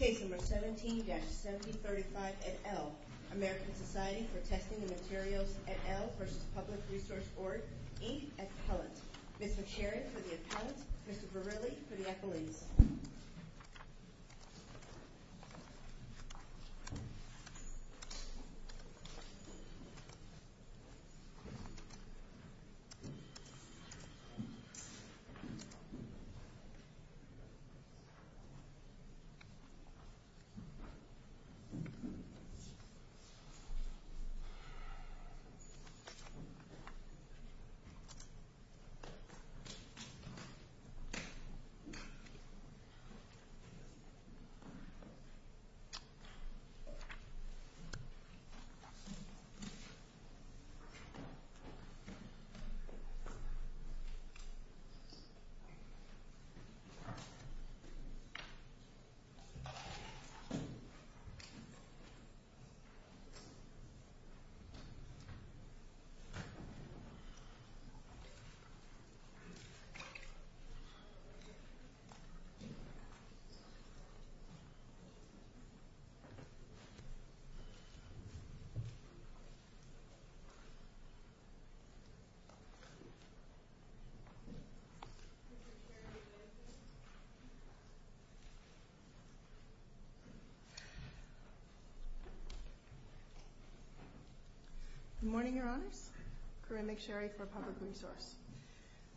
Page number 17-1735 et al., American Society for Testing and Materials et al. v. Public.Resource.Org, Inc., et al. Mr. Sheridan for the et al., Mr. Verrilli for the et al. Page number 17-1735 et al., American Society for Testing and Materials et al., Inc., et al. Page number 17-1735 et al., American Society for Testing and Materials et al., Inc., et al. Page number 17-1735 et al., American Society for Testing and Materials et al., Inc., et al. Good morning, everyone. Corinne McSherry for Public.Resource.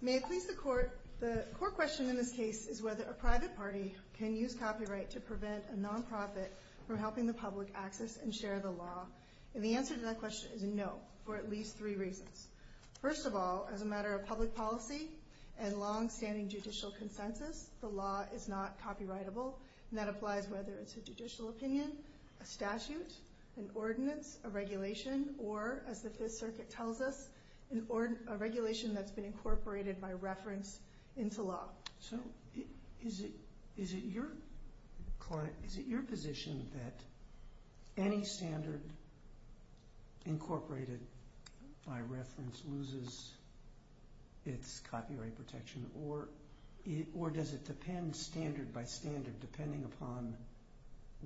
May I speak to the court? The court question in this case is whether a private party can use copyright to prevent a nonprofit from helping the public access and share the law. And the answer to that question is no, for at least three reasons. First of all, as a matter of public policy and longstanding judicial consensus, the law is not copyrightable. And that applies whether it's a judicial opinion, a statute, an ordinance, a regulation, or as the Fifth Circuit tells us, a regulation that's been incorporated by reference into law. So is it your position that any standard incorporated by reference loses its copyright protection? Or does it depend standard by standard depending upon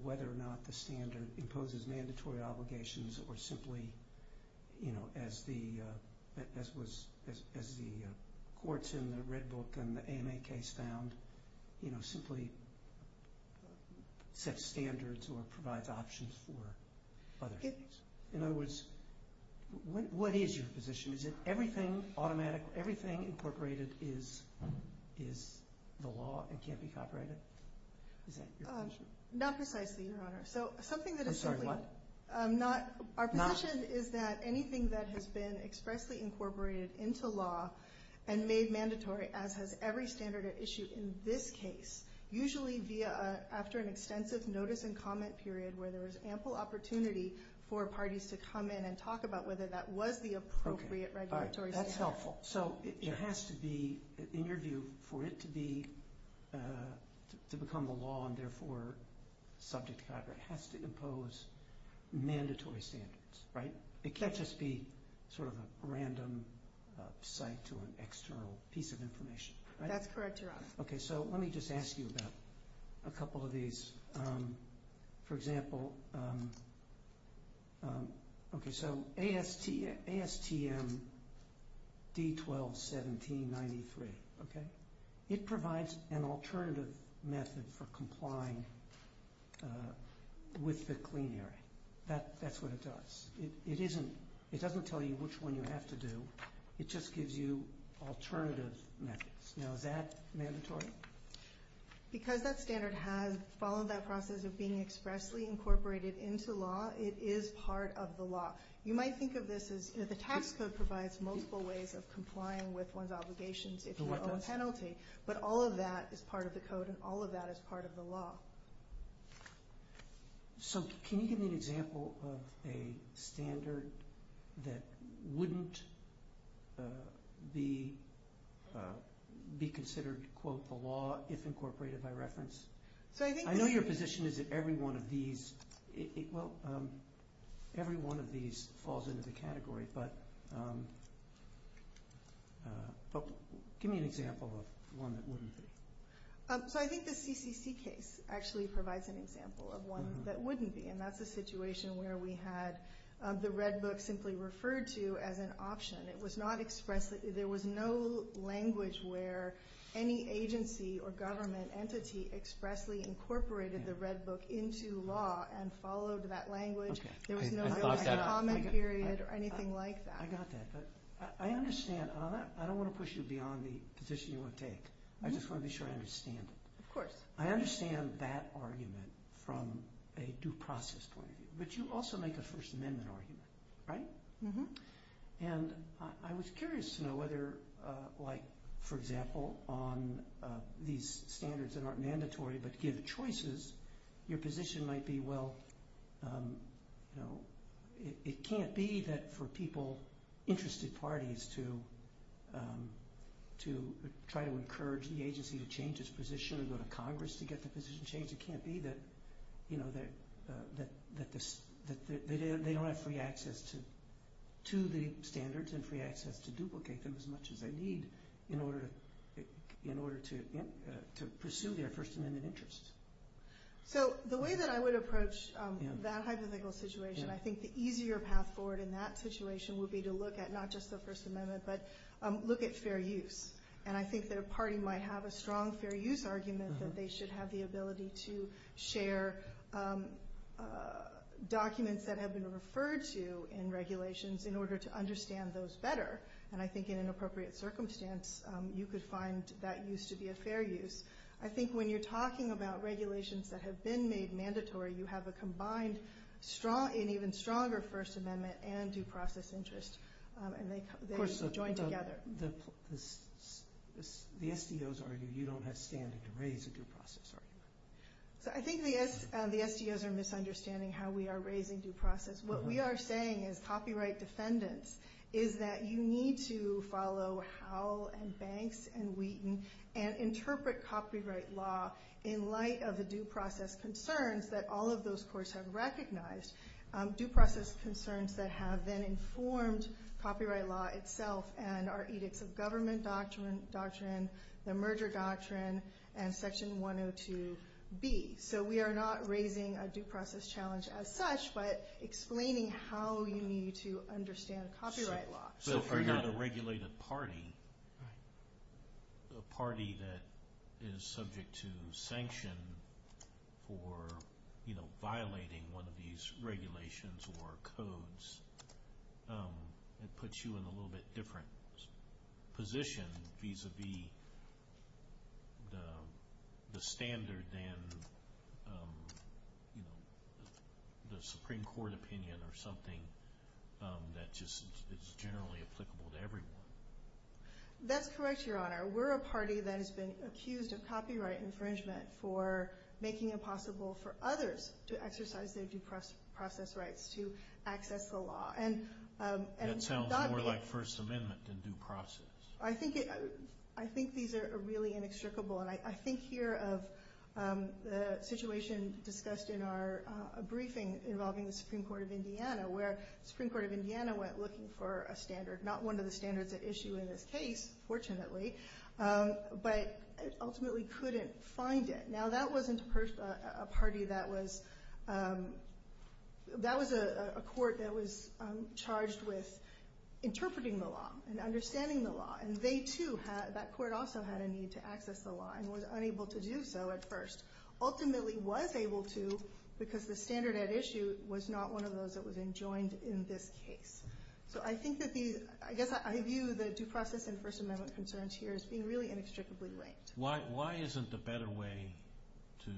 whether or not the standard imposes mandatory obligations or simply, you know, as the courts in the Red Book and the AMA case found, you know, simply set standards or provide options for others? In other words, what is your position? Is it everything automatic, everything incorporated is the law and can't be copyrighted? Not precisely, Your Honor. I'm sorry, what? Our position is that anything that has been expressly incorporated into law and made mandatory, as has every standard at issue in this case, usually after an extensive notice and comment period where there's ample opportunity for parties to come in and talk about whether that was the appropriate regulatory measure. That's helpful. So it has to be, in your view, for it to become a law and therefore subject to copyright, it has to impose mandatory standards, right? It can't just be sort of a random site to an external piece of information. That's correct, Your Honor. Okay, so let me just ask you about a couple of these. For example, okay, so ASTM D121793, okay? It provides an alternative method for complying with the Green Area. That's what it does. It doesn't tell you which one you have to do. It just gives you alternative methods. Now, is that mandatory? Because that standard has followed that process of being expressly incorporated into law, it is part of the law. You might think of this as if a tax code provides multiple ways of complying with one's obligations, it's a penalty, but all of that is part of the code and all of that is part of the law. So can you give me an example of a standard that wouldn't be considered, quote, the law if incorporated by reference? I know your position is that every one of these, well, every one of these falls into the category, but give me an example of one that wouldn't. So I think the CCC case actually provides an example of one that wouldn't be, and that's a situation where we had the Red Book simply referred to as an option. It was not expressly, there was no language where any agency or government entity expressly incorporated the Red Book into law and followed that language. There was no comment period or anything like that. I understand. I don't want to push you beyond the position you want to take. I just want to be sure I understand. Of course. I understand that argument from a due process point of view, but you also make a First Amendment argument, right? And I was curious to know whether, like, for example, on these standards that aren't mandatory but give choices, your position might be, well, it can't be that for people, interested parties, to try to encourage the agency to change its position and go to Congress to get the position changed. It can't be that they don't have free access to the standards and free access to duplicate them as much as they need in order to pursue their First Amendment interests. So the way that I would approach that hypothetical situation, I think the easier path forward in that situation would be to look at not just the First Amendment, but look at fair use. And I think their party might have a strong fair use argument that they should have the ability to share documents that have been referred to in regulations in order to understand those better. And I think in an appropriate circumstance, you could find that use to be a fair use. I think when you're talking about regulations that have been made mandatory, you have a combined strong and even stronger First Amendment and due process interest, and they join together. Of course, the SDOs argue you don't have standing to raise a due process argument. I think the SDOs are misunderstanding how we are raising due process. What we are saying as copyright defendants is that you need to follow Howell and Banks and Wheaton and interpret copyright law in light of the due process concerns that all of those courts have recognized. Due process concerns that have been informed copyright law itself and our Edicts of Government Doctrine, the Merger Doctrine, and Section 102B. So we are not raising a due process challenge as such, but explaining how we need to understand copyright law. So if you have a regulated party, a party that is subject to sanction for violating one of these regulations or codes, it puts you in a little bit different position vis-a-vis the standard than the Supreme Court opinion or something that is generally applicable to everyone. That's correct, Your Honor. We're a party that has been accused of copyright infringement for making it possible for others to exercise their due process rights to access the law. That sounds more like First Amendment than due process. I think these are really inextricable and I think here of the situation discussed in our briefing involving the Supreme Court of Indiana, where the Supreme Court of Indiana went looking for a standard, not one of the standards that issue in this case, fortunately, but ultimately couldn't find it. Now that wasn't a party that was, that was a court that was charged with interpreting the law and understanding the law. And they too, that court also had a need to access the law and was unable to do so at first. Ultimately was able to because the standard at issue was not one of those that was enjoined in this case. So I think that the, I guess I view the due process and First Amendment concerns here as being really inextricably linked. Why isn't the better way to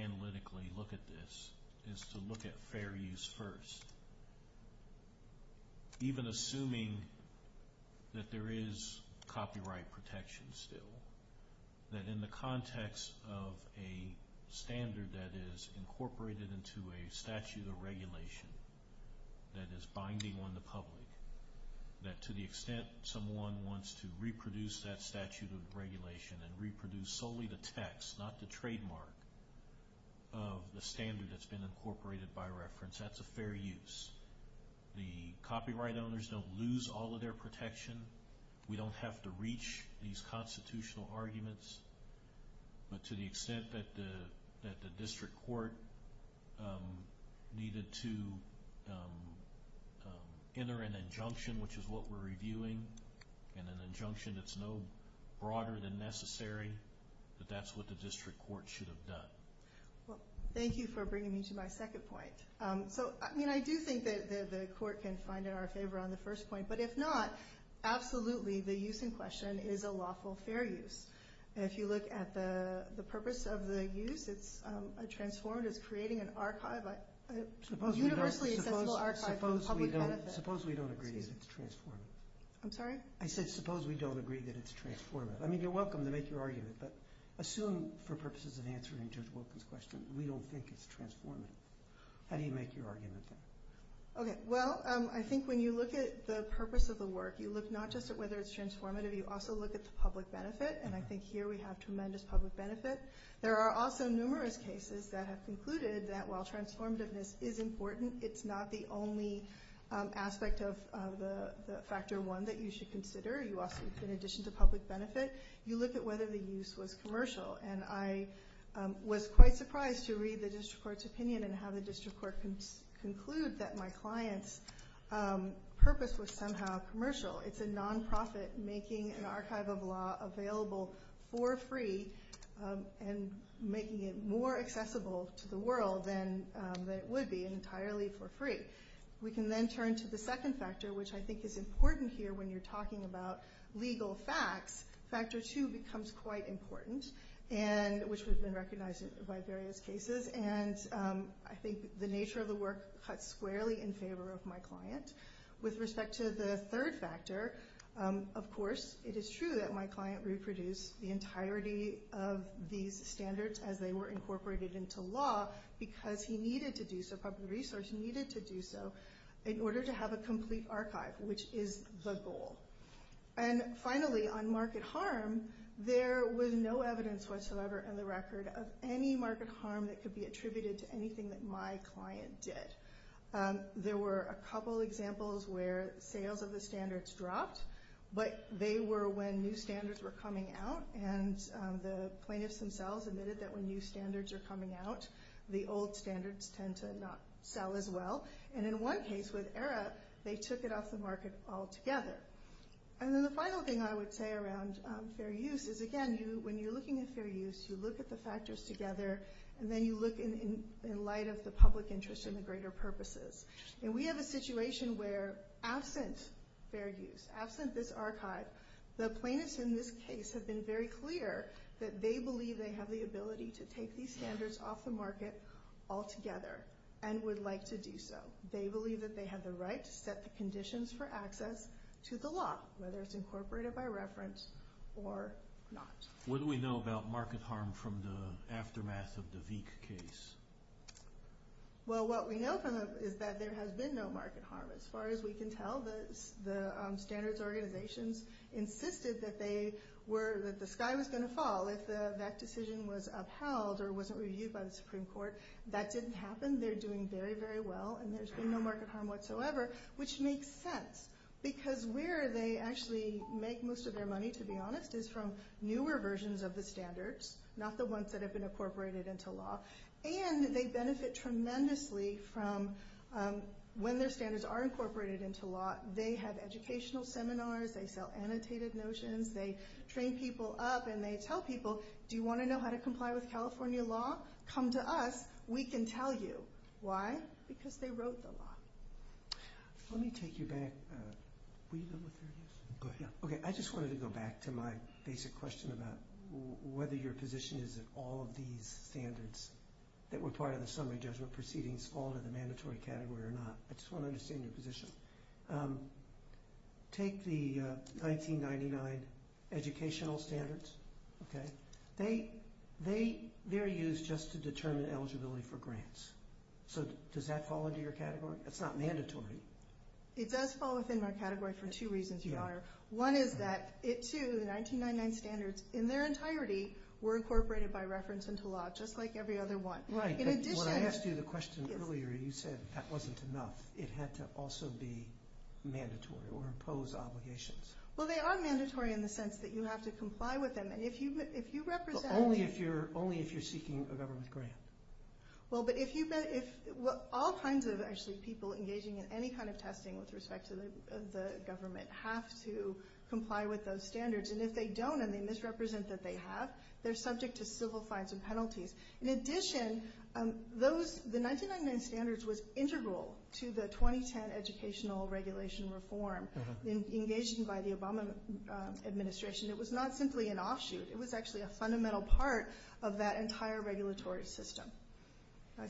analytically look at this is to look at fair use first? Even assuming that there is copyright protection still, that in the context of a standard that is incorporated into a statute of regulation that is binding on the public, that to the extent someone wants to reproduce that statute of regulation and reproduce solely the text, not the trademark of the standard that's been incorporated by reference, that's a fair use. The copyright owners don't lose all of their protection. We don't have to reach these constitutional arguments, but to the extent that the district court needed to enter an injunction, which is what we're reviewing, and an injunction that's known broader than necessary, that that's what the district court should have done. Well, thank you for bringing me to my second point. I do think that the court can find in our favor on the first point, but if not, absolutely, the use in question is a lawful fair use. If you look at the purpose of the use, it's a transformative, creating an archive, a universally accessible archive for public benefit. Suppose we don't agree that it's transformative. I'm sorry? I said suppose we don't agree that it's transformative. I mean, you're welcome to make your argument, but assume for purposes of the answer in terms of this question, we don't think it's transformative. How do you make your argument? Okay. Well, I think when you look at the purpose of the work, you look not just at whether it's transformative, you also look at the public benefit, and I think here we have tremendous public benefit. There are also numerous cases that have concluded that while transformativeness is important, it's not the only aspect of the factor one that you should consider. In addition to public benefit, you look at whether the use was commercial, and I was quite surprised to read the district court's opinion and have a district court conclude that my client's purpose was somehow commercial. It's a nonprofit making an archive of law available for free and making it more accessible to the world than it would be entirely for free. We can then turn to the second factor, which I think is important here when you're talking about legal facts. Factor two becomes quite important, which has been recognized by various cases, and I think the nature of the work cuts squarely in favor of my client. With respect to the third factor, of course, it is true that my client reproduced the entirety of these standards as they were incorporated into law because he needed to do so, public resource needed to do so, in order to have a complete archive, which is the goal. Finally, on market harm, there was no evidence whatsoever in the record of any market harm that could be attributed to anything that my client did. There were a couple examples where sales of the standards dropped, but they were when new standards were coming out, and the plaintiffs themselves admitted that when new standards are coming out, the old standards tend to not sell as well. In one case with ERA, they took it off the market altogether. Then the final thing I would say around fair use is, again, when you're looking at fair use, you look at the factors together, and then you look in light of the public interest and the greater purposes. We have a situation where, absent fair use, absent this archive, the plaintiffs in this case have been very clear that they believe they have the ability to take these standards off the market altogether and would like to do so. They believe that they have the right to set the conditions for access to the law, whether it's incorporated by reference or not. What do we know about market harm from the aftermath of the Veek case? Well, what we know is that there has been no market harm. As far as we can tell, the standards organization insisted that the sky was going to fall. If that decision was upheld or wasn't reviewed by the Supreme Court, that didn't happen. They're doing very, very well, and there's been no market harm whatsoever, which makes sense, because where they actually make most of their money, to be honest, is from newer versions of the standards, not the ones that have been incorporated into law. And they benefit tremendously from when their standards are incorporated into law. They have educational seminars. They sell annotated notions. They train people up, and they tell people, do you want to know how to comply with California law? Come to us. We can tell you. Why? Because they wrote the law. Let me take you back. Okay, I just wanted to go back to my basic question about whether your position is that all of these standards that were part of the summary judgment proceedings fall into the mandatory category or not. I just want to understand your position. Take the 1999 educational standards, okay? They're used just to determine eligibility for grants. So does that fall into your category? It's not mandatory. It does fall within my category for two reasons. One is that it, too, the 1999 standards, in their entirety, were incorporated by reference into law, just like every other one. Right. When I asked you the question earlier, you said that wasn't enough. It had to also be mandatory or impose obligations. Well, they are mandatory in the sense that you have to comply with them. And if you represent them… Only if you're seeking a government grant. Well, but if all kinds of people engaging in any kind of testing with respect to the government have to comply with those standards, and if they don't and they misrepresent that they have, they're subject to civil fines and penalties. In addition, the 1999 standards were integral to the 2010 educational regulation reform. Engaged by the Obama administration, it was not simply an offshoot. It was actually a fundamental part of that entire regulatory system.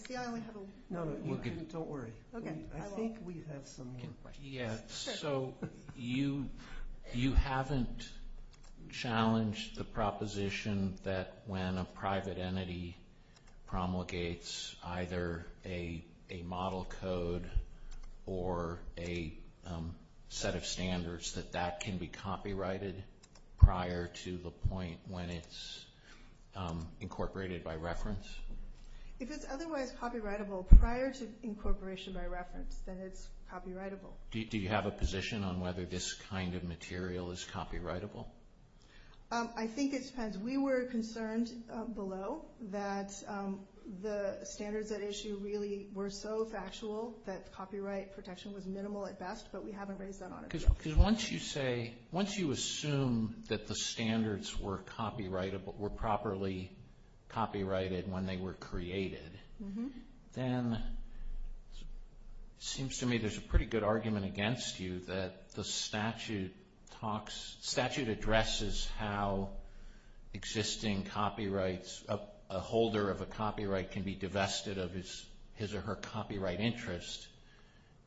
Don't worry. I think we have some more questions. Yeah, so you haven't challenged the proposition that when a private entity promulgates either a model code or a set of standards, that that can be copyrighted prior to the point when it's incorporated by reference? If it's otherwise copyrightable prior to incorporation by reference, then it's copyrightable. Do you have a position on whether this kind of material is copyrightable? I think it depends. We were concerned below that the standards at issue really were so factual that copyright protection was minimal at best, but we haven't raised that argument. Once you assume that the standards were properly copyrighted when they were created, then it seems to me there's a pretty good argument against you that the statute addresses how a holder of a copyright can be divested of his or her copyright interest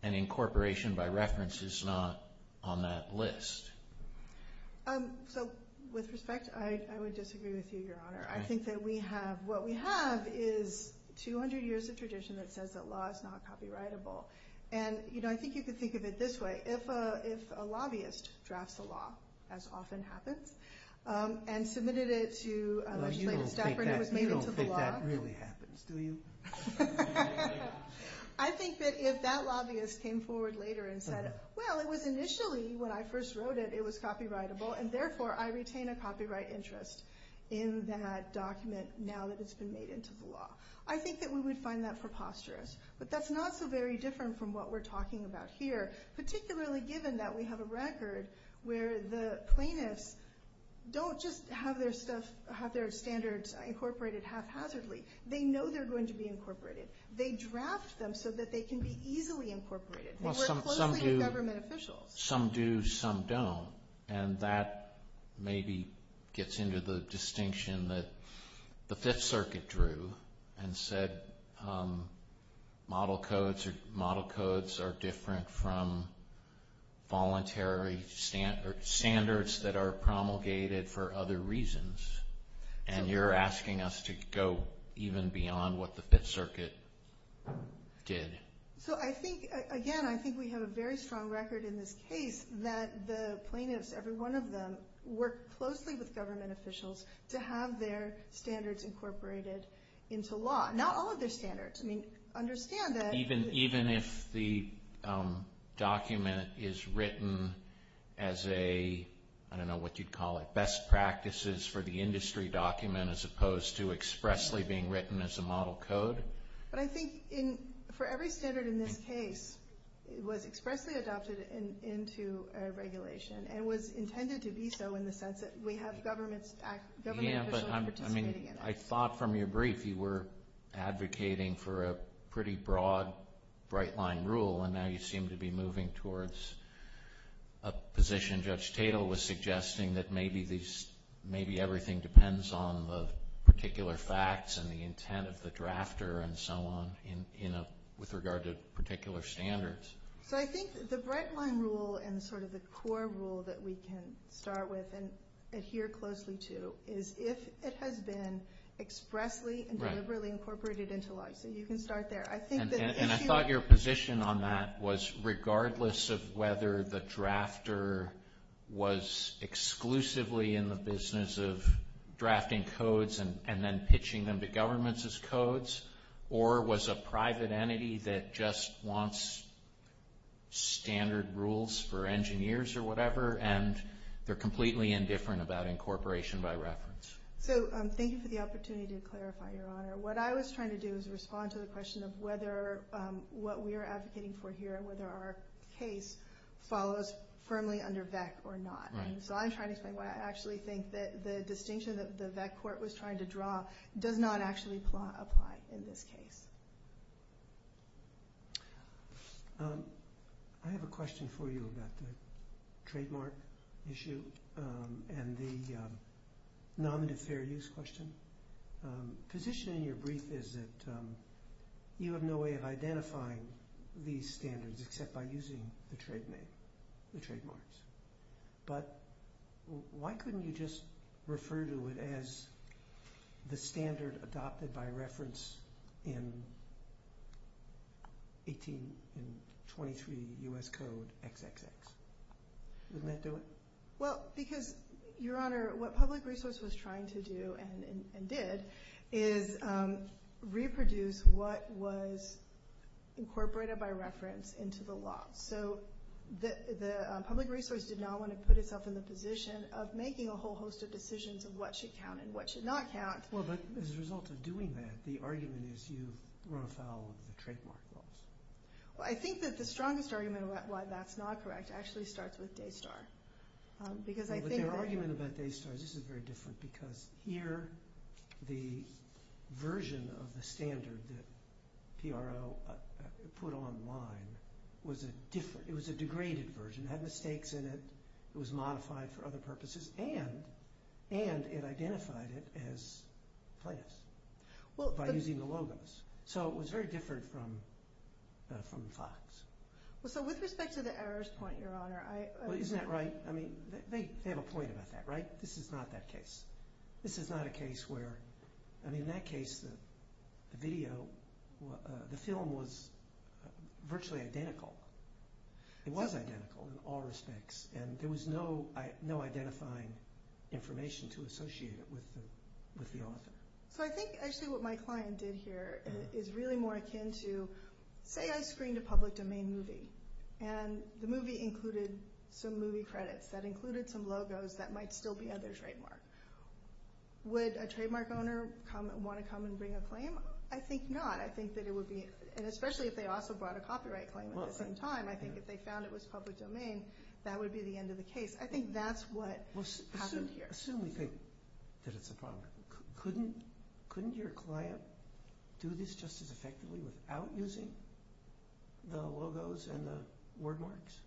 and incorporation by reference is not on that list. With respect, I would disagree with you, Your Honor. I think that what we have is 200 years of tradition that says that law is not copyrightable. I think you could think of it this way. If a lobbyist drafts a law, as often happens, and submitted it to a separate committee for the law. You don't think that really happens, do you? I think that if that lobbyist came forward later and said, well, it was initially when I first wrote it, it was copyrightable, and therefore I retain a copyright interest in that document now that it's been made into the law. I think that we would find that preposterous, but that's not so very different from what we're talking about here, particularly given that we have a record where the plaintiffs don't just have their standards incorporated haphazardly. They know they're going to be incorporated. They draft them so that they can be easily incorporated. We're close to a government official. Some do, some don't, and that maybe gets into the distinction that the Fifth Circuit drew and said model codes are different from voluntary standards that are promulgated for other reasons, and you're asking us to go even beyond what the Fifth Circuit did. Again, I think we have a very strong record in this case that the plaintiffs, every one of them worked closely with government officials to have their standards incorporated into law. Not all of their standards. Understand that. Even if the document is written as a, I don't know what you'd call it, best practices for the industry document as opposed to expressly being written as a model code? But I think for every standard in this case, it was expressly adopted into regulation and was intended to be so in the sense that we have government officials participating in it. I thought from your brief you were advocating for a pretty broad, bright-line rule, and now you seem to be moving towards a position Judge Tatel was suggesting that maybe everything depends on particular facts and the intent of the drafter and so on with regard to particular standards. So I think the bright-line rule and sort of the core rule that we can start with and adhere closely to is if it has been expressly and deliberately incorporated into law. So you can start there. And I thought your position on that was regardless of whether the drafter was exclusively in the business of drafting codes and then pitching them to governments as codes or was a private entity that just wants standard rules for engineers or whatever and they're completely indifferent about incorporation by reference. So thank you for the opportunity to clarify, Your Honor. What I was trying to do was respond to the question of whether what we are advocating for here, whether our case follows firmly under VEC or not. So I'm trying to say what I actually think that the distinction that the VEC court was trying to draw does not actually apply in this case. I have a question for you about the trademark issue and the non-deferred use question. The position in your brief is that you have no way of identifying these standards except by using the trademarks. But why couldn't you just refer to it as the standard adopted by reference in 1823 U.S. Code XXX? Wouldn't that do it? Well, because, Your Honor, what public resource was trying to do and did is reproduce what was incorporated by reference into the law. So the public resource did not want to put itself in the position of making a whole host of decisions of what should count and what should not count. Well, but as a result of doing that, the argument is you run afoul of the trademark laws. Well, I think that the strongest argument about why that's not correct actually starts with Daystar. But the argument about Daystar, this is very different, because here the version of the standard that PRO put online was a degraded version. It had mistakes in it. It was modified for other purposes. And it identified it as class by using the logos. So it was very different from the facts. So with respect to the errors point, Your Honor, I... Isn't that right? I mean, they have a point about that, right? This is not that case. This is not a case where... I mean, in that case, the video, the film was virtually identical. It was identical in all respects. And there was no identifying information to associate it with the author. So I think actually what my client did here is really more akin to, say I screened a public domain movie, and the movie included some movie credits that included some logos that might still be under trademark. Would a trademark owner want to come and bring a claim? I think not. I think that it would be... And especially if they also brought a copyright claim at the same time, I think if they found it was public domain, that would be the end of the case. I think that's what happened here. Assume you think that it's a problem. Couldn't your client do this just as effectively without using the logos and the word marks?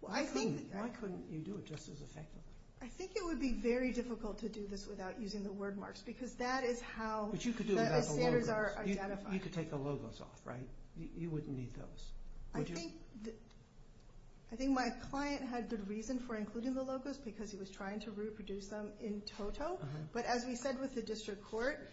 Why couldn't you do it just as effectively? I think it would be very difficult to do this without using the word marks because that is how the standards are identified. But you could do it without the logos. You could take the logos off, right? You wouldn't need those. I think my client had good reason for including the logos because he was trying to reproduce them in total. But as we said with the district court,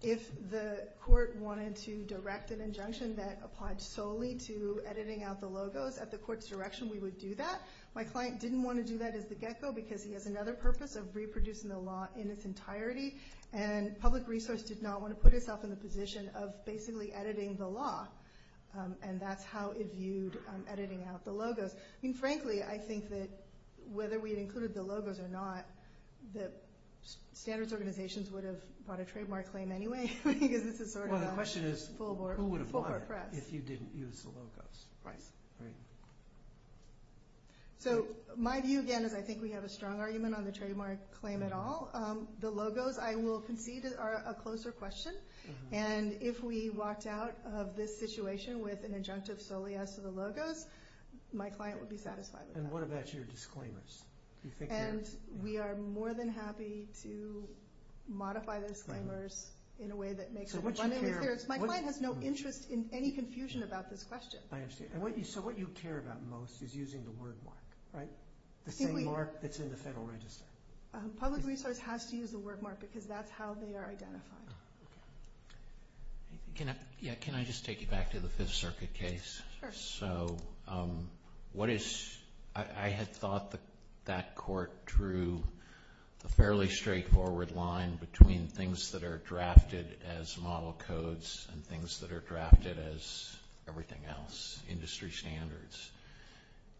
if the court wanted to direct an injunction that applied solely to editing out the logos, at the court's direction, we would do that. My client didn't want to do that as a get-go because he has another purpose of reproducing the law in its entirety. And public resource does not want to put itself in the position of basically editing the law. And that's how it's viewed, editing out the logos. Frankly, I think that whether we included the logos or not, the standards organizations would have brought a trademark claim anyway Well, the question is, who would have won if you didn't use the logos? So, my view again is I think we have a strong argument on the trademark claim at all. The logos, I will concede, are a closer question. And if we walked out of this situation with an injunction solely as to the logos, my client would be satisfied with that. And what about your disclaimers? We are more than happy to modify those disclaimers in a way that makes it runner-in-the-field. My client has no interest in any confusion about this question. I understand. So what you care about most is using the word mark, right? The same mark that's in the Federal Register. Public resource has to use the word mark because that's how they are identified. Can I just take you back to the Fifth Circuit case? Sure. So, I had thought that that court drew a fairly straightforward line between things that are drafted as model codes and things that are drafted as everything else, industry standards,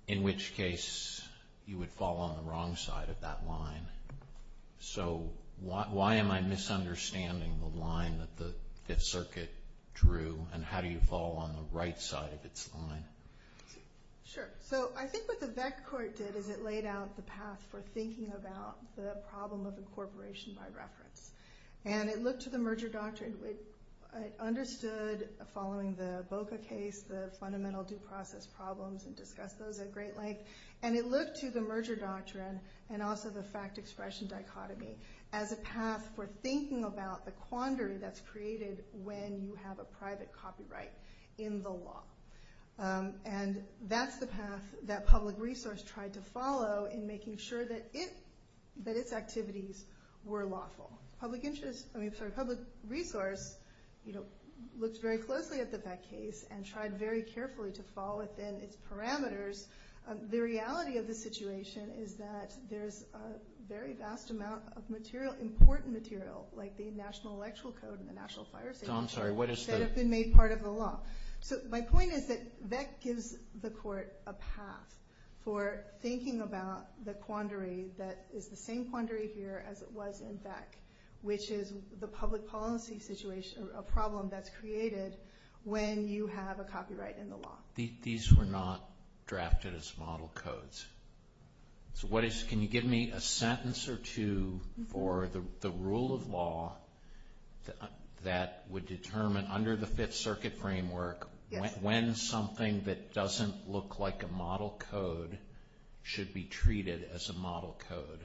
in which case you would fall on the wrong side of that line. So, why am I misunderstanding the line that the Fifth Circuit drew and how you fall on the right side of its line? Sure. So, I think what the VEC court did is it laid out the path for thinking about the problem of incorporation by reference. And it looked to the merger doctrine. It understood, following the Boca case, the fundamental due process problems and discussed those at great length. And it looked to the merger doctrine and also the fact-expression dichotomy as a path for thinking about the quandary that's created when you have a private copyright in the law. And that's the path that public resource tried to follow in making sure that its activities were lawful. Public interest, I mean, sorry, public resource, you know, looked very closely at the VEC case and tried very carefully to follow it and its parameters. The reality of the situation is that there's a very vast amount of material, important material, like the National Electoral Code and the National Fire Safety Code that have been made part of the law. So, my point is that VEC gives the court a path for thinking about the quandary that is the same quandary here as it was in VEC, which is the public policy situation, a problem that's created when you have a copyright in the law. These were not drafted as model codes. Can you give me a sentence or two for the rule of law that would determine under the Fifth Circuit framework when something that doesn't look like a model code should be treated as a model code?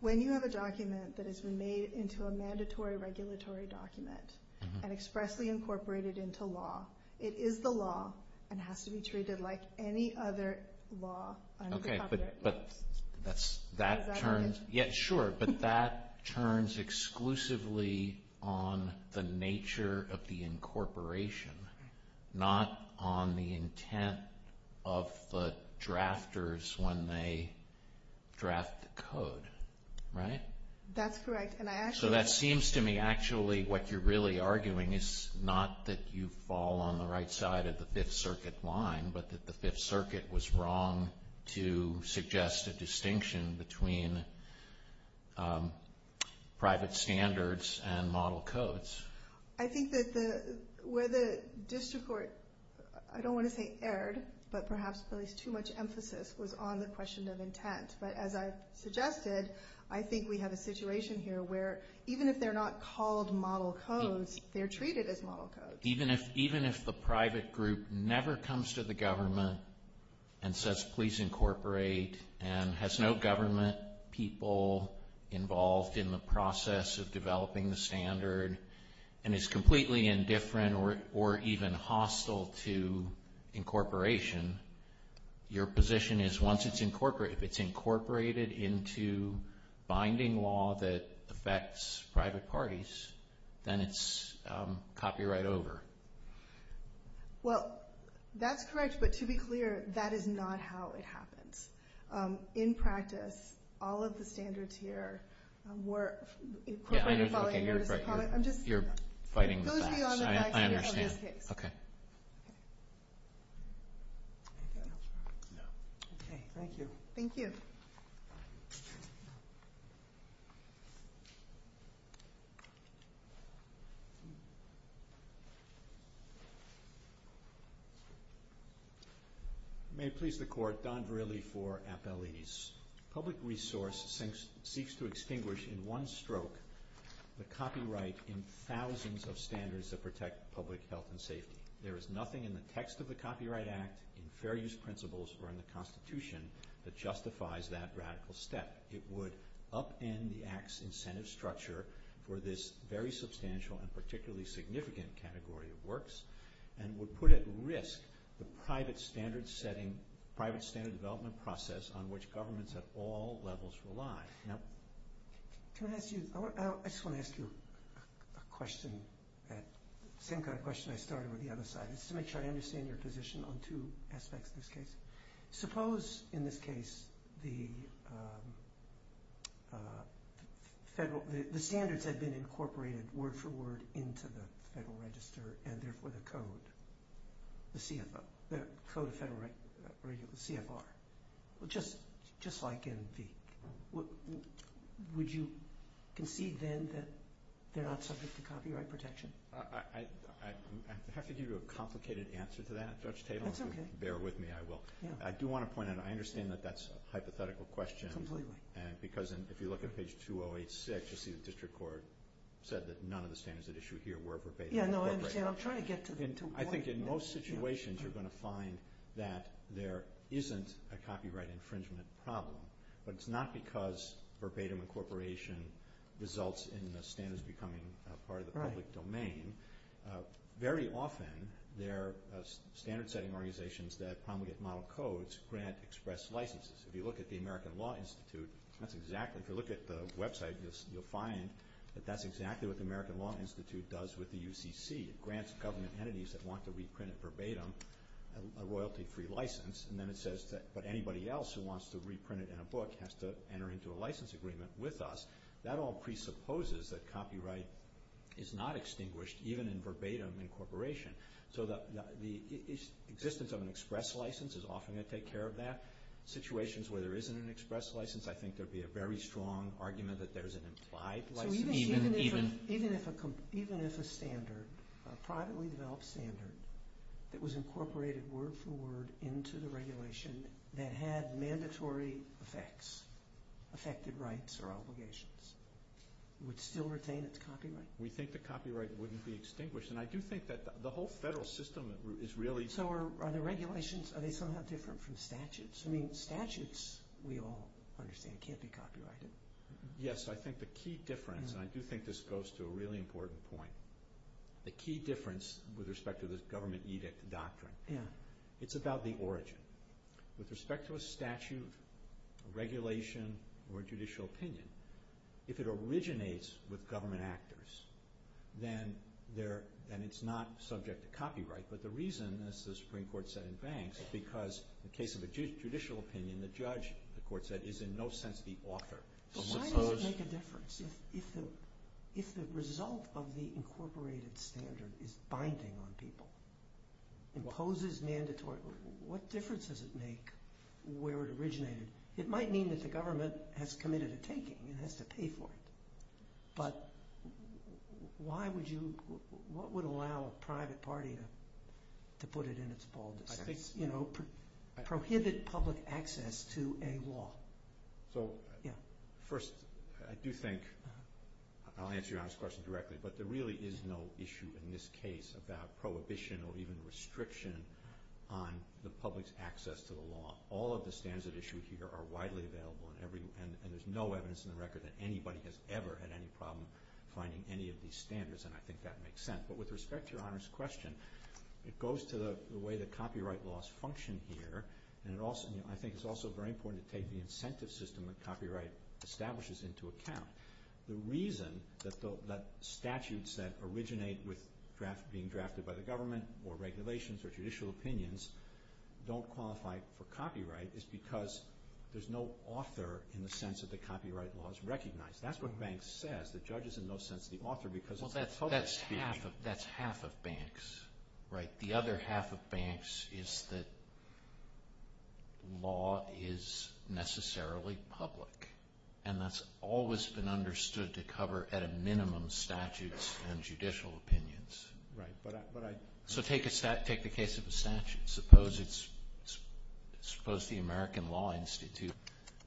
When you have a document that has been made into a mandatory regulatory document and expressly incorporated into law, it is the law and has to be treated like any other law under the Fifth Circuit. Okay, but that turns... not on the intent of the drafters when they draft the code, right? That's right. So, that seems to me actually what you're really arguing is not that you fall on the right side of the Fifth Circuit line, but that the Fifth Circuit was wrong to suggest a distinction between private standards and model codes. I think that where the district court, I don't want to say erred, but perhaps placed too much emphasis was on the question of intent. But as I suggested, I think we have a situation here where even if they're not called model codes, they're treated as model codes. Even if the private group never comes to the government and has no government people involved in the process of developing the standard and is completely indifferent or even hostile to incorporation, your position is once it's incorporated, if it's incorporated into binding law that affects private parties, then it's copyright over. Well, that's correct, but to be clear, that is not how it happens. In practice, all of the standards here were incorporated. Okay, you're right. You're fighting the facts. I understand. Okay. Thank you. Thank you. Thank you. May it please the court, Don Verrilli for Appellees. Public resource seeks to extinguish in one stroke the copyright in thousands of standards that protect public health and safety. There is nothing in the text of the Copyright Act and various principles from the Constitution that justifies that radical step. It would upend the Act's incentive structure for this very substantial and particularly significant category of works and would put at risk the private standard setting, private standard development process on which governments at all levels rely. Can I ask you, I just want to ask you a question, the same kind of question I started with the other side. It's to make sure I understand your position on two aspects of this case. Suppose, in this case, the standards had been incorporated word for word into the Federal Register and therefore the code, the CFR, just like in the... Would you concede then that they're not subject to copyright protection? I have to give you a complicated answer to that at such a table. That's okay. Bear with me, I will. I do want to point out, I understand that that's a hypothetical question because if you look at page 2086, you see the District Court said that none of the standards that are issued here were verbatim incorporated. I think in most situations you're going to find that there isn't a copyright infringement problem, but it's not because verbatim incorporation results in the standards becoming part of the public domain. Very often, there are standard-setting organizations that promulgate model codes, grant express licenses. If you look at the American Law Institute, if you look at the website, you'll find that that's exactly what the American Law Institute does with the UCC. It grants government entities that want to reprint it verbatim a royalty-free license, and then it says that anybody else who wants to reprint it in a book has to enter into a license agreement with us. That all presupposes that copyright is not extinguished even in verbatim incorporation. So the existence of an express license is often going to take care of that. Situations where there isn't an express license, I think there'd be a very strong argument that there's an implied license. Even if a standard, a privately developed standard, that was incorporated word for word into the regulation that had mandatory effects, affected rights or obligations, would still retain its copyright? We think the copyright wouldn't be extinguished, and I do think that the whole federal system is really... So are the regulations, are they somehow different from statutes? I mean, statutes, we all understand, can't be copyrighted. Yes, I think the key difference, and I do think this goes to a really important point, the key difference with respect to this government edict doctrine, it's about the origin. With respect to a statute, a regulation, or a judicial opinion, if it originates with government actors, then it's not subject to copyright. But the reason, as the Supreme Court said in Banks, because in the case of a judicial opinion, the judge, the court said, is in no sense the author. So how does it make a difference if the result of the incorporated standard is binding on people? Imposes mandatory... What difference does it make where it originated? It might mean that the government has committed a taking, it has to pay for it. But why would you... What would allow a private party to put it in its baldness? Prohibit public access to a law. So, first, I do think... I'll answer your honest question directly, but there really is no issue in this case about prohibition or even restriction on the public's access to the law. All of the standards at issue here are widely available, and there's no evidence in the record that anybody has ever had any problem finding any of these standards, and I think that makes sense. But with respect to your honest question, it goes to the way that copyright laws function here, and I think it's also very important to take the incentive system that copyright establishes into account. The reason that statutes that originate with being drafted by the government or regulations or judicial opinions don't qualify for copyright is because there's no author in the sense that the copyright law is recognized. That's what Banks says. The judge is in no sense the author because... Well, that's half of Banks, right? The other half of Banks is that law is necessarily public, and that's always been understood to cover at a minimum statutes and judicial opinions. Right, but I... So take the case of the statute. Suppose the American Law Institute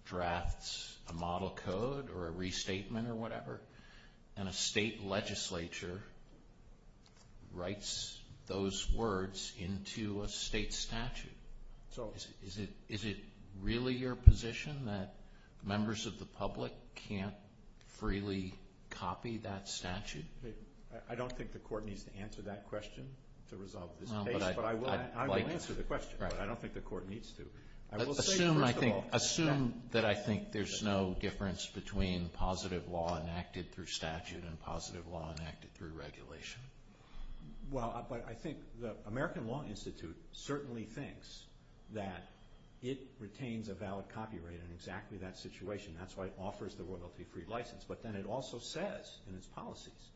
drafts a model code or a restatement or whatever, and a state legislature writes those words into a state statute. Is it really your position that members of the public can't freely copy that statute? I don't think the court needs to answer that question to resolve this case, but I will answer the question. I don't think the court needs to. Assume that I think there's no difference between positive law enacted through statute and positive law enacted through regulation. Well, but I think the American Law Institute certainly thinks that it retains a valid copyright in exactly that situation. That's why it offers the royalty-free license. But then it also says in its policies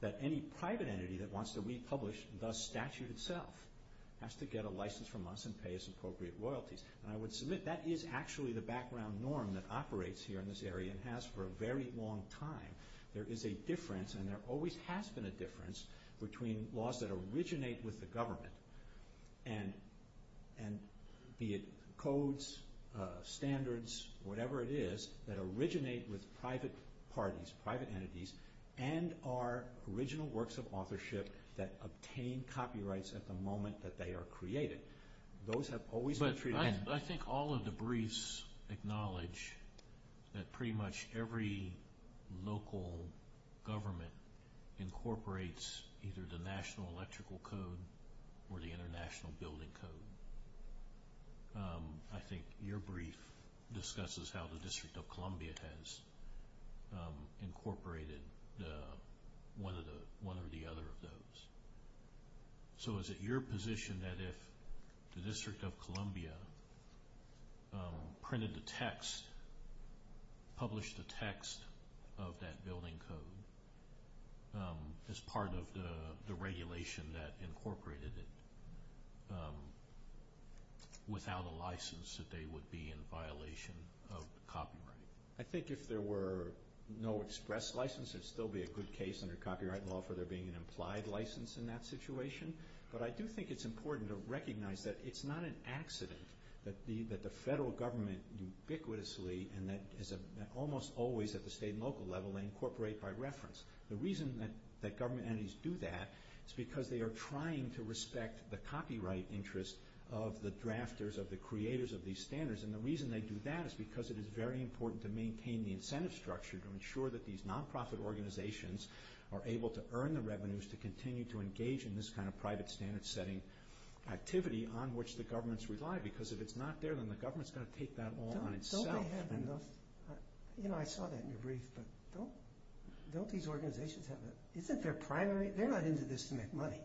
that any private entity that wants to republish the statute itself has to get a license from us and pay us appropriate loyalties. And I would submit that is actually the background norm that operates here in this area and has for a very long time. There is a difference, and there always has been a difference, between laws that originate with the government, and be it codes, standards, whatever it is, that originate with private parties, private entities, and are original works of authorship that obtain copyrights at the moment that they are created. Those have always been treated... But I think all of the briefs acknowledge that pretty much every local government incorporates either the National Electrical Code or the International Building Code. I think your brief discusses how the District of Columbia has incorporated one or the other of those. So is it your position that if the District of Columbia printed the text, published the text of that building code, as part of the regulation that incorporated it, without a license, that they would be in violation of copyright? I think if there were no express licenses, there would still be a good case under copyright law for there being an implied license in that situation. But I do think it's important to recognize that it's not an accident that the federal government ubiquitously and almost always at the state and local level they incorporate by reference. The reason that government entities do that is because they are trying to respect the copyright interests of the drafters, of the creators of these standards. And the reason they do that is because it is very important to maintain the incentive structure to ensure that these non-profit organizations are able to earn the revenues to continue to engage in this kind of private standard-setting activity on which the governments rely. Because if it's not there, then the government's got to take that law on itself. You know, I saw that in your brief. Don't these organizations have a... You think they're primary... They're not into this to make money.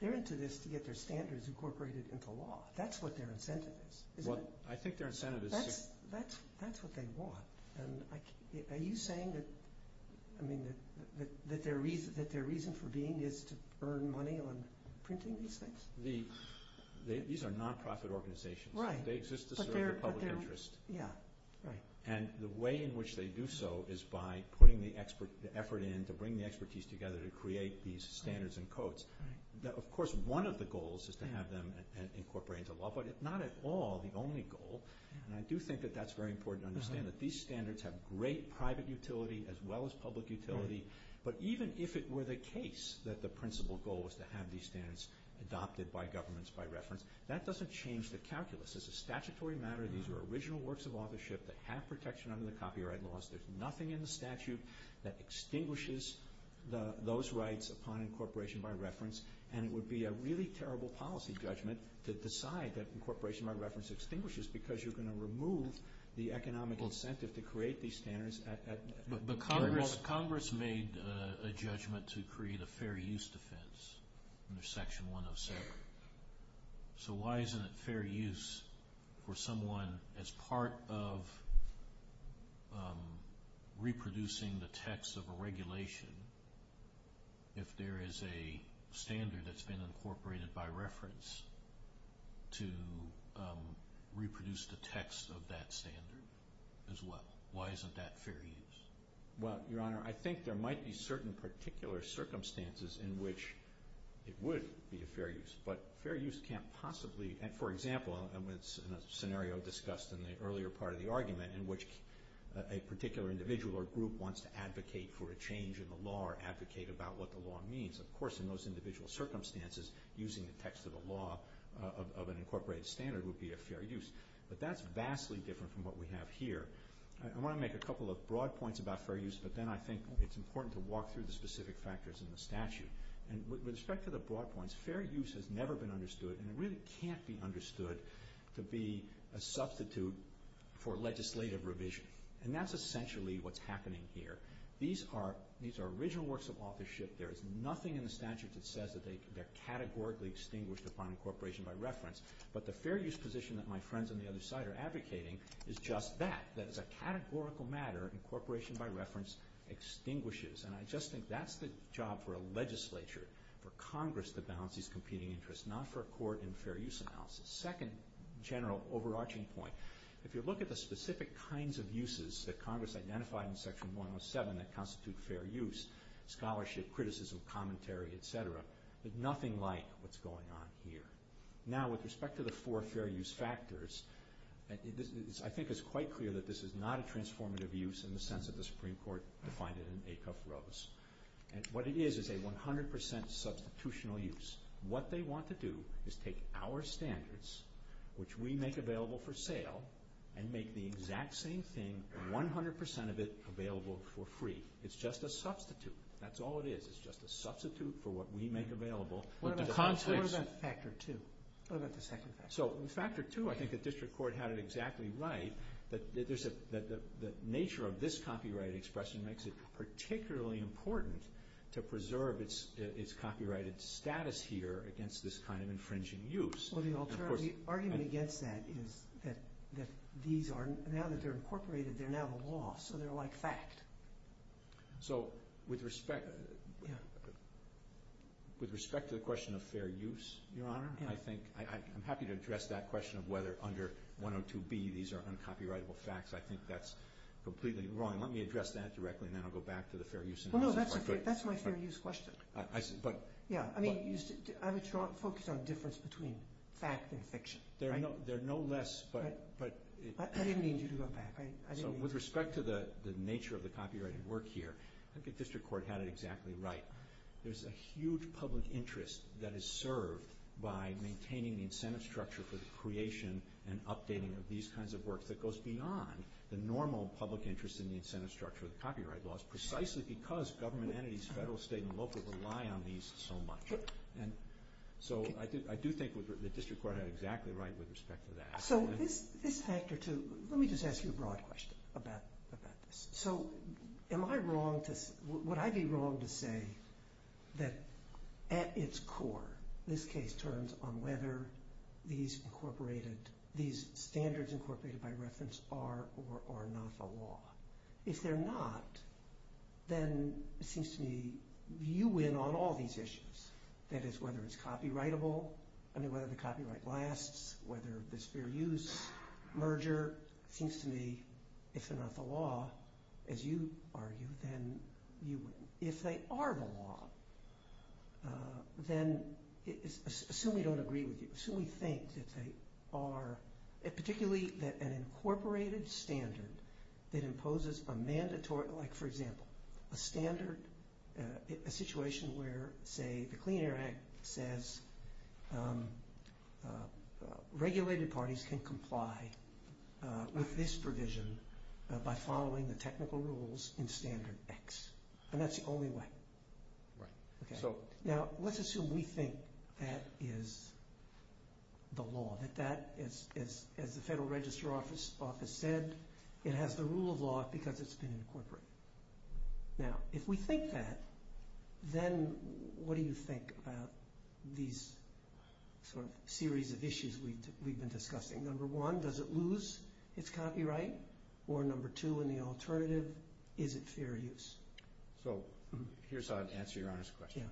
They're into this to get their standards incorporated into law. That's what their incentive is. Well, I think their incentive is... That's what they want. Are you saying that their reason for being is to earn money on printing these things? These are non-profit organizations. They exist to serve the public interest. Yeah, right. And the way in which they do so is by putting the effort in to bring the expertise together to create these standards and codes. Of course, one of the goals is to have them incorporated into law. But it's not at all the only goal. And I do think that that's very important to understand that these standards have great private utility as well as public utility. But even if it were the case that the principal goal was to have these standards adopted by governments by reference, that doesn't change the calculus. It's a statutory matter. These are original works of authorship that have protection under the copyright laws. There's nothing in the statute that extinguishes those rights upon incorporation by reference. And it would be a really terrible policy judgment to decide that incorporation by reference extinguishes because you're going to remove the economic incentive to create these standards. But Congress made a judgment to create a fair use defense under Section 107. So why isn't it fair use for someone as part of reproducing the text of a regulation if there is a standard that's been incorporated by reference to reproduce the text of that standard? Why isn't that fair use? Well, Your Honor, I think there might be certain particular circumstances in which it would be a fair use. But fair use can't possibly... For example, in a scenario discussed in the earlier part of the argument in which a particular individual or group wants to advocate for a change in the law or advocate about what the law means. Of course, in those individual circumstances, using the text of the law of an incorporated standard would be a fair use. But that's vastly different from what we have here. I want to make a couple of broad points about fair use, but then I think it's important to walk through the specific factors in the statute. And with respect to the broad points, fair use has never been understood and really can't be understood to be a substitute for legislative revision. And that's essentially what's happening here. These are original works of authorship. There is nothing in the statute that says that they're categorically extinguished upon incorporation by reference. But the fair use position that my friends on the other side are advocating is just that. That it's a categorical matter incorporation by reference extinguishes. And I just think that's the job for a legislature, for Congress, to balance these competing interests, not for a court and fair use analysis. Second general overarching point. If you look at the specific kinds of uses that Congress identified in Section 107 that constitute fair use, scholarship, criticism, commentary, etc., there's nothing like what's going on here. Now, with respect to the four fair use factors, I think it's quite clear that this is not a transformative use in the sense that the Supreme Court defined it in Acuff-Rose. And what it is is a 100% substitutional use. What they want to do is take our standards, which we make available for sale, and make the exact same thing, 100% of it, available for free. It's just a substitute. That's all it is. It's just a substitute for what we make available. What about the second factor? So, in Factor 2, I think the district court had it exactly right that the nature of this copyright expression makes it particularly important to preserve its copyrighted status here against this kind of infringing use. Well, the argument against that is that now that they're incorporated, they're now the law, so they're like fact. So, with respect to the question of fair use, I'm happy to address that question of whether under 102B these are uncopyrightable facts. I think that's completely wrong. Let me address that directly, and then I'll go back to the fair use. Well, no, that's my fair use question. Yeah, I would focus on the difference between fact and fiction. There are no less, but... I didn't mean you to go back, right? So, with respect to the nature of the copyrighted work here, I think the district court had it exactly right. There's a huge public interest that is served by maintaining the incentive structure for the creation and updating of these kinds of work that goes beyond the normal public interest in the incentive structure of the copyright laws, precisely because government entities, federal, state, and local rely on these so much. So, I do think the district court had it exactly right with respect to that. So, this factor, too... Let me just ask you a broad question about this. So, am I wrong to... Would I be wrong to say that at its core this case turns on whether these standards incorporated by reference are or are not the law? If they're not, then it seems to me you win on all these issues. That is, whether it's copyrightable, whether the copyright lasts, whether there's fair use, merger. It seems to me if they're not the law, as you argue, then you win. If they are the law, then assume we don't agree with you. Assume we think that they are. Particularly that an incorporated standard that imposes a mandatory... Like, for example, a standard... A situation where, say, the Clean Air Act says regulated parties can comply with this provision by following the technical rules in Standard X. And that's the only way. Now, let's assume we think that is the law, that that, as the Federal Register Office said, it has the rule of law because it's been incorporated. Now, if we think that, then what do you think about these series of issues we've been discussing? Number one, does it lose its copyright? Or, number two, in the alternative, is it fair use? So, here's how I'd answer Your Honor's question.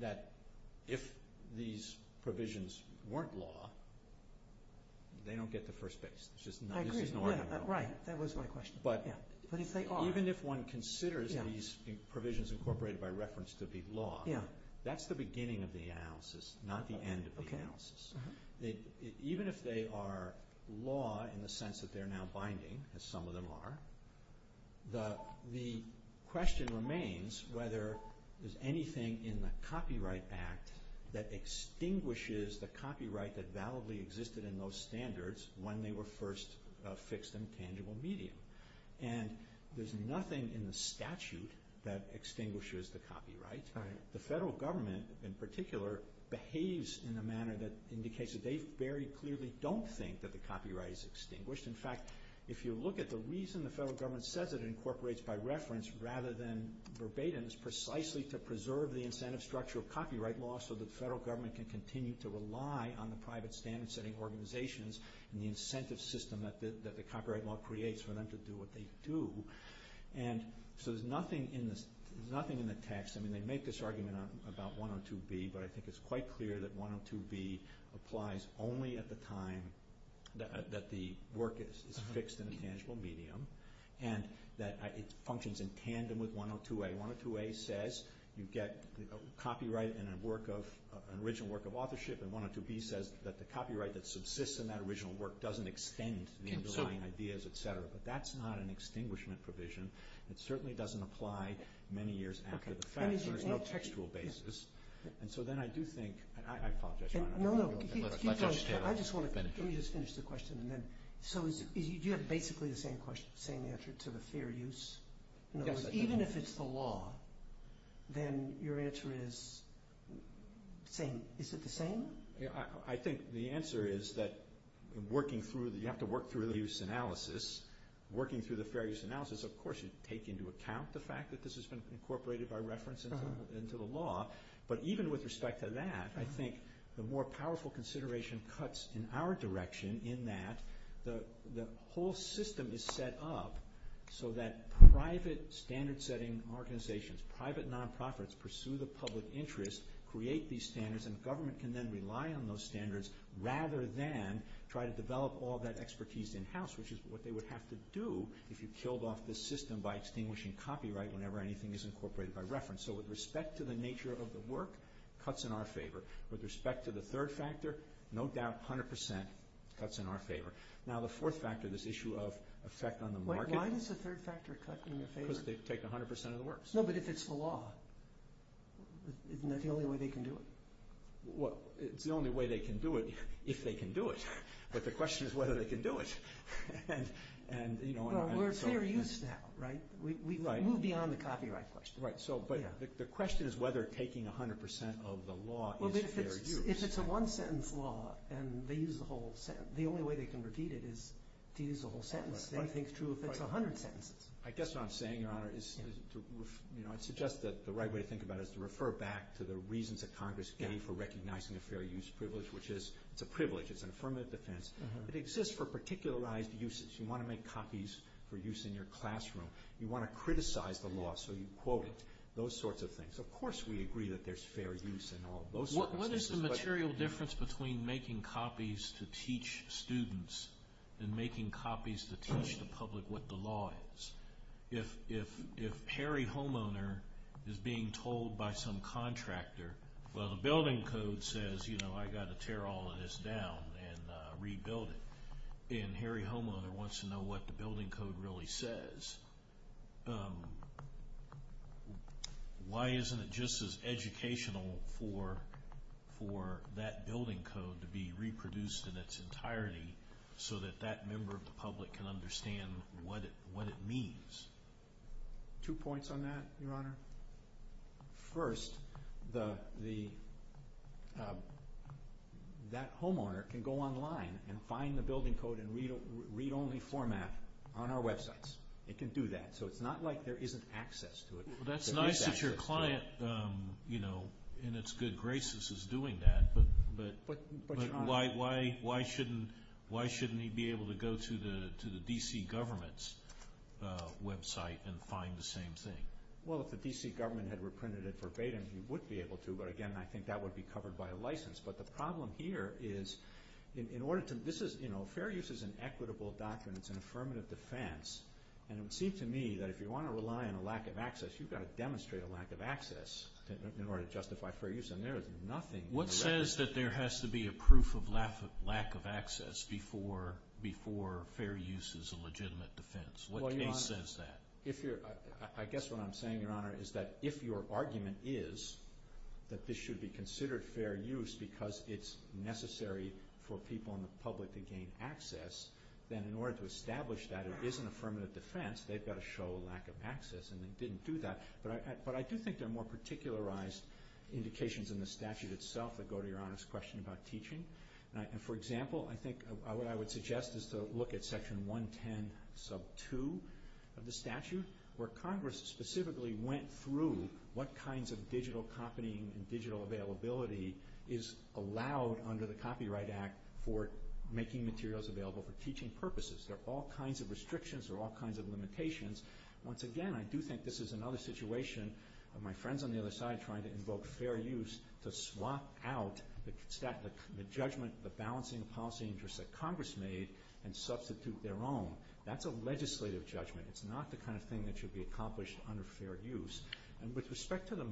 That if these provisions weren't law, they don't get the first base. I agree. Right. That was my question. But even if one considers these provisions incorporated by reference to be law, that's the beginning of the analysis, not the end of the analysis. Even if they are law in the sense that they're now binding, as some of them are, the question remains whether there's anything in the Copyright Act that extinguishes the copyright that validly existed in those standards when they were first fixed in tangible media. And there's nothing in the statute that extinguishes the copyright. The Federal Government, in particular, behaves in a manner that indicates that they very clearly don't think that the copyright is extinguished. In fact, if you look at the reason the Federal Government says it incorporates by reference rather than verbatim is precisely to preserve the incentive structure of copyright law so the Federal Government can continue to rely on the private standard-setting organizations and the incentive system that the copyright law creates for them to do what they do. And so there's nothing in the text. I mean, they make this argument about 102B, but I think it's quite clear that 102B applies only at the time that the work is fixed in tangible medium and that it functions in tandem with 102A. 102A says you get copyright in an original work of authorship and 102B says that the copyright that subsists in that original work doesn't extend to the underlying ideas, et cetera. But that's not an extinguishment provision. It certainly doesn't apply many years after the fact on a textual basis. And so then I do think... I apologize. Let me just finish the question. So do you have basically the same answer to the fair use? Even if it's the law, then your answer is the same. Is it the same? I think the answer is that you have to work through the use analysis. Working through the fair use analysis, of course you take into account the fact that this has been incorporated by reference into the law. But even with respect to that, I think the more powerful consideration cuts in our direction in that the whole system is set up so that private standard-setting organizations, private nonprofits pursue the public interest, create these standards, and government can then rely on those standards rather than try to develop all that expertise in-house, which is what they would have to do if you killed off the system by extinguishing copyright whenever anything is incorporated by reference. So with respect to the nature of the work, cuts in our favor. With respect to the third factor, no doubt 100% cuts in our favor. Now the fourth factor, this issue of effect on the market... Wait, why does the third factor cut in their favor? Because they take 100% of the works. No, but if it's the law, isn't that the only way they can do it? Well, it's the only way they can do it if they can do it. But the question is whether they can do it. Well, we're fair use now, right? We've moved beyond the copyright question. Right, but the question is whether taking 100% of the law... Well, if it's a one-sentence law, and they use the whole sentence, the only way they can repeat it is to use the whole sentence. If anything's true, it's 100%. I guess what I'm saying, Your Honor, is I suggest that the right way to think about it is to refer back to the reasons that Congress gave for recognizing a fair use privilege, which is it's a privilege, it's an affirmative defense. It exists for particularized uses. You want to make copies for use in your classroom. You want to criticize the law so you quote it. Those sorts of things. Of course we agree that there's fair use in all those... What is the material difference between making copies to teach students and making copies to teach the public what the law is? If Harry Homeowner is being told by some contractor, well, the building code says, you know, I got to tear all of this down and rebuild it, and Harry Homeowner wants to know what the building code really says, why isn't it just as educational for that building code to be reproduced in its entirety so that that member of the public can understand what it means? Two points on that, Your Honor. First, that homeowner can go online and find the building code in read-only format on our websites. It can do that. So it's not like there isn't access to it. That's nice that your client, in its good graces, is doing that, but why shouldn't he be able to go to the D.C. government's website and find the same thing? Well, if the D.C. government had reprinted it verbatim, he would be able to, but again, I think that would be covered by a license. But the problem here is, fair use is an equitable document. It's an affirmative defense, and it seems to me that if you want to rely on a lack of access, you've got to demonstrate a lack of access in order to justify fair use, and there would be nothing. What says that there has to be a proof of lack of access before fair use is a legitimate defense? What case says that? I guess what I'm saying, Your Honor, is that if your argument is that this should be considered fair use because it's necessary for people in the public to gain access, then in order to establish that it is an affirmative defense, they've got to show a lack of access, and they didn't do that. But I do think there are more particularized indications in the statute itself that go to Your Honor's question about teaching. For example, I think what I would suggest is to look at section 110 sub 2 of the statute, where Congress specifically went through what kinds of digital company and digital availability is allowed under the Copyright Act for making materials available for teaching purposes. There are all kinds of restrictions, there are all kinds of limitations. Once again, I do think this is another situation where my friends on the other side are trying to invoke fair use to swap out the judgment, the balancing of policy interests that Congress made and substitute their own. That's a legislative judgment. It's not the kind of thing that should be accomplished under fair use. With respect to the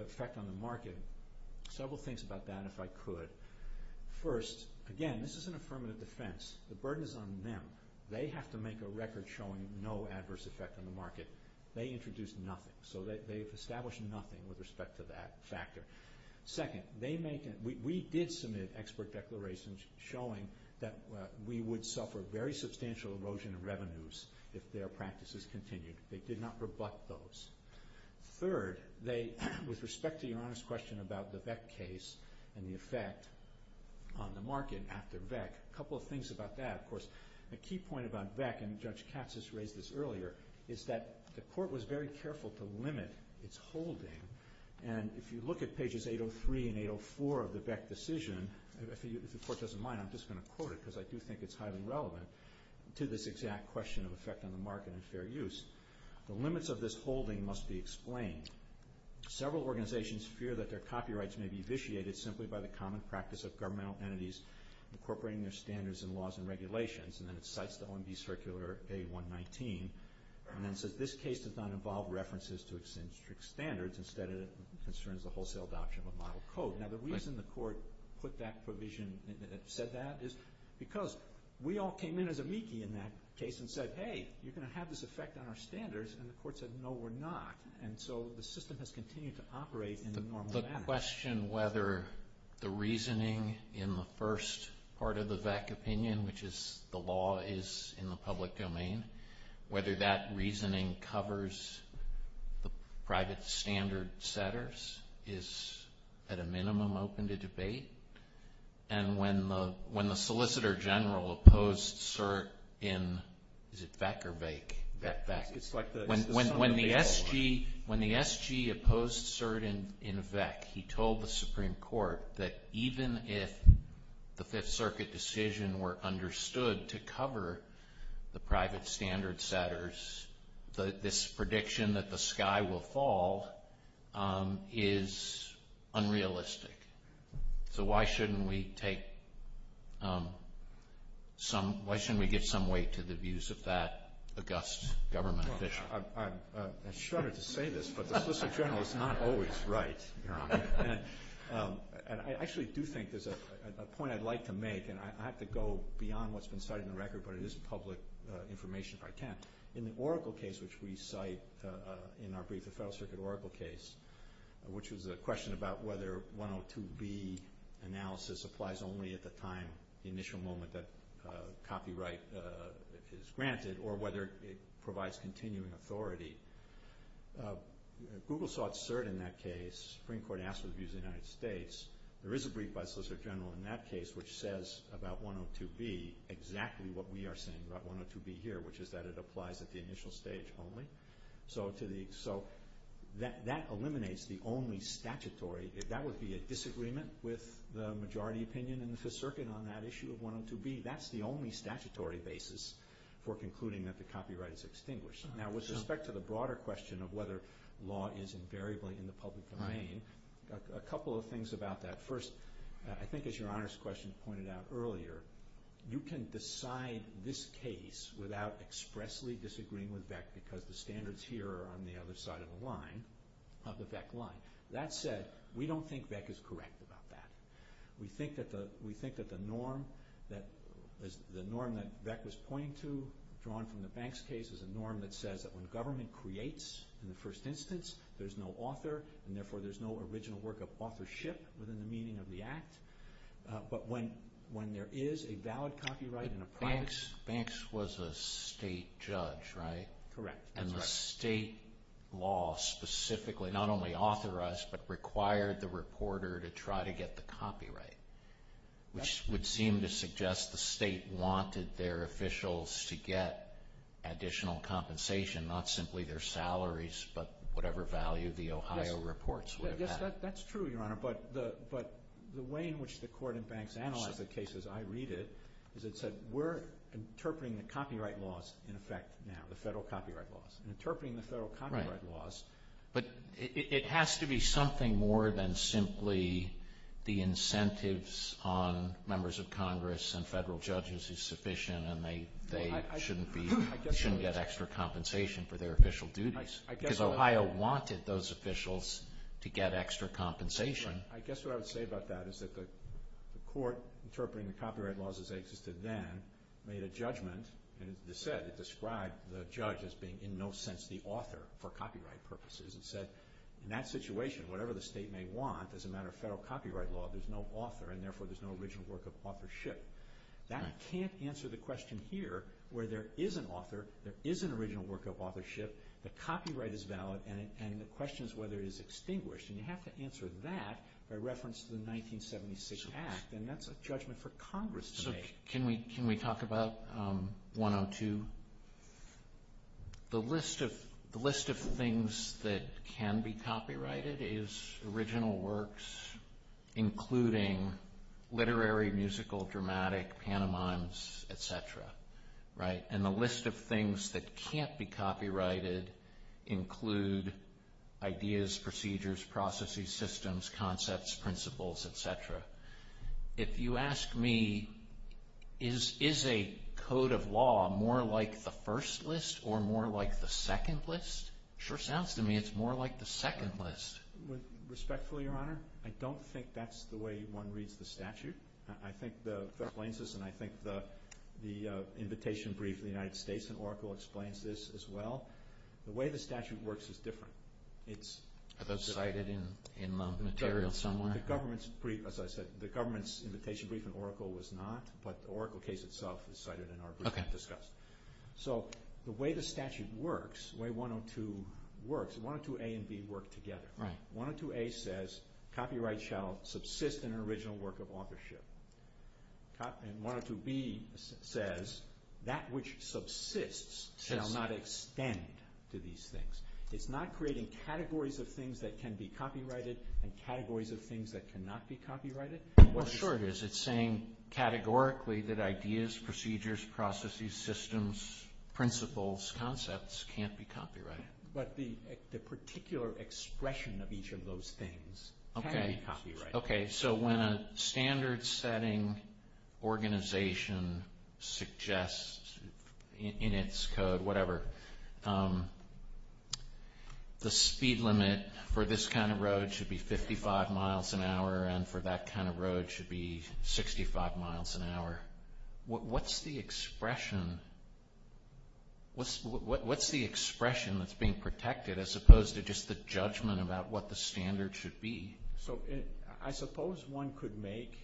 effect on the market, several things about that, if I could. First, again, this is an affirmative defense. The burden is on them. They have to make a record showing no adverse effect on the market. They introduced nothing. So they've established nothing with respect to that factor. Second, we did submit expert declarations showing that we would suffer very substantial erosion of revenues if their practices continued. They did not rebut those. Third, with respect to your honest question about the VEC case and the effect on the market after VEC, a couple of things about that. Of course, a key point about VEC, and Judge Katz has raised this earlier, is that the Court was very careful to limit its holding. And if you look at pages 803 and 804 of the VEC decision, if the Court doesn't mind, I'm just going to quote it because I do think it's highly relevant to this exact question of effect on the market and fair use. The limits of this holding must be explained. Several organizations fear that their copyrights may be vitiated simply by the common practice of governmental entities incorporating their standards and laws and regulations. And then it cites the OMB Circular A119 and then says, this case does not involve references to existing standards instead it concerns the wholesale adoption of a model code. Now, the reason the Court put that provision and said that is because we all came in as amici in that case and said, hey, you're going to have this effect on our standards, and the Court said, no, we're not. And so the system has continued to operate in the normal manner. The question whether the reasoning in the first part of the VEC opinion, which is the law is in the public domain, whether that reasoning covers the private standard setters is at a minimum open to debate. And when the Solicitor General opposed cert in, is it VEC or VEC? VEC. When the SG opposed cert in VEC, he told the Supreme Court that even if the Fifth Circuit decision were understood to cover the private standard setters, this prediction that the sky will fall is unrealistic. So why shouldn't we get some weight to the views of that august government official? I'm shuddered to say this, but the Solicitor General is not always right, Your Honor. And I actually do think there's a point I'd like to make, and I have to go beyond what's been cited in the record, but it is public information if I can. In the Oracle case, which we cite in our brief, the Federal Circuit Oracle case, which was a question about whether 102B analysis applies only at the time, the initial moment that copyright is granted, or whether it provides continuing authority. Google saw cert in that case. The Supreme Court asked the views of the United States. There is a brief by the Solicitor General in that case which says about 102B exactly what we are saying about 102B here, which is that it applies at the initial stage only. So that eliminates the only statutory. That would be a disagreement with the majority opinion in the Fifth Circuit on that issue of 102B. That's the only statutory basis for concluding that the copyright is extinguished. Now with respect to the broader question of whether law is invariably in the public domain, a couple of things about that. First, I think as Your Honor's question pointed out earlier, you can decide this case without expressly disagreeing with Beck because the standards here are on the other side of the line, of the Beck line. That said, we don't think Beck is correct about that. We think that the norm that Beck is pointing to drawn from the Banks case is a norm that says that when the government creates in the first instance, there is no author, and therefore there is no original work of authorship within the meaning of the act. But when there is a valid copyright and a private... Banks was a state judge, right? Correct. And the state law specifically not only authorized, but required the reporter to try to get the copyright, which would seem to suggest the state wanted their officials to get additional compensation, not simply their salaries, but whatever value the Ohio reports would have had. Yes, that's true, Your Honor, but the way in which the court in Banks analyzed the case as I read it, is it said we're interpreting the copyright laws in effect now, the federal copyright laws. Interpreting the federal copyright laws. But it has to be something more than simply the incentives on members of Congress and federal judges is sufficient, and they shouldn't get extra compensation for their official duties. Because Ohio wanted those officials to get extra compensation. I guess what I would say about that is that the court interpreting the copyright laws as they existed then made a judgment, and it said it described the judge as being in no sense the author for copyright purposes. It said in that situation, whatever the state may want, as a matter of federal copyright law, there's no author, and therefore there's no original work of authorship. That can't answer the question here where there is an author, there is an original work of authorship, the copyright is valid, and the question is whether it is extinguished. And you have to answer that by reference to the 1976 act, and that's a judgment for Congress to make. Can we talk about 102? The list of things that can be copyrighted is original works, including literary, musical, dramatic, piano mimes, etc. And the list of things that can't be copyrighted include ideas, procedures, processes, systems, concepts, principles, etc. If you ask me, is a code of law more like the first list or more like the second list? It sure sounds to me it's more like the second list. Respectfully, Your Honor, I don't think that's the way one reads the statute. I think the invitation brief of the United States and Oracle explains this as well. The way the statute works is different. Is it cited in the material somewhere? As I said, the government's invitation brief in Oracle was not, but the Oracle case itself is cited in the article we just discussed. So the way the statute works, the way 102 works, 102A and 102B work together. 102A says copyright shall subsist in an original work of authorship. And 102B says that which subsists shall not extend to these things. It's not creating categories of things that can be copyrighted and categories of things that cannot be copyrighted. Well, sure it is. It's saying categorically that ideas, procedures, processes, systems, principles, concepts can't be copyrighted. But the particular expression of each of those things cannot be copyrighted. Okay. So when a standard setting organization suggests in its code, whatever, the speed limit for this kind of road should be 55 miles an hour and for that kind of road should be 65 miles an hour. What's the expression that's being protected as opposed to just the judgment about what the standard should be? So I suppose one could make,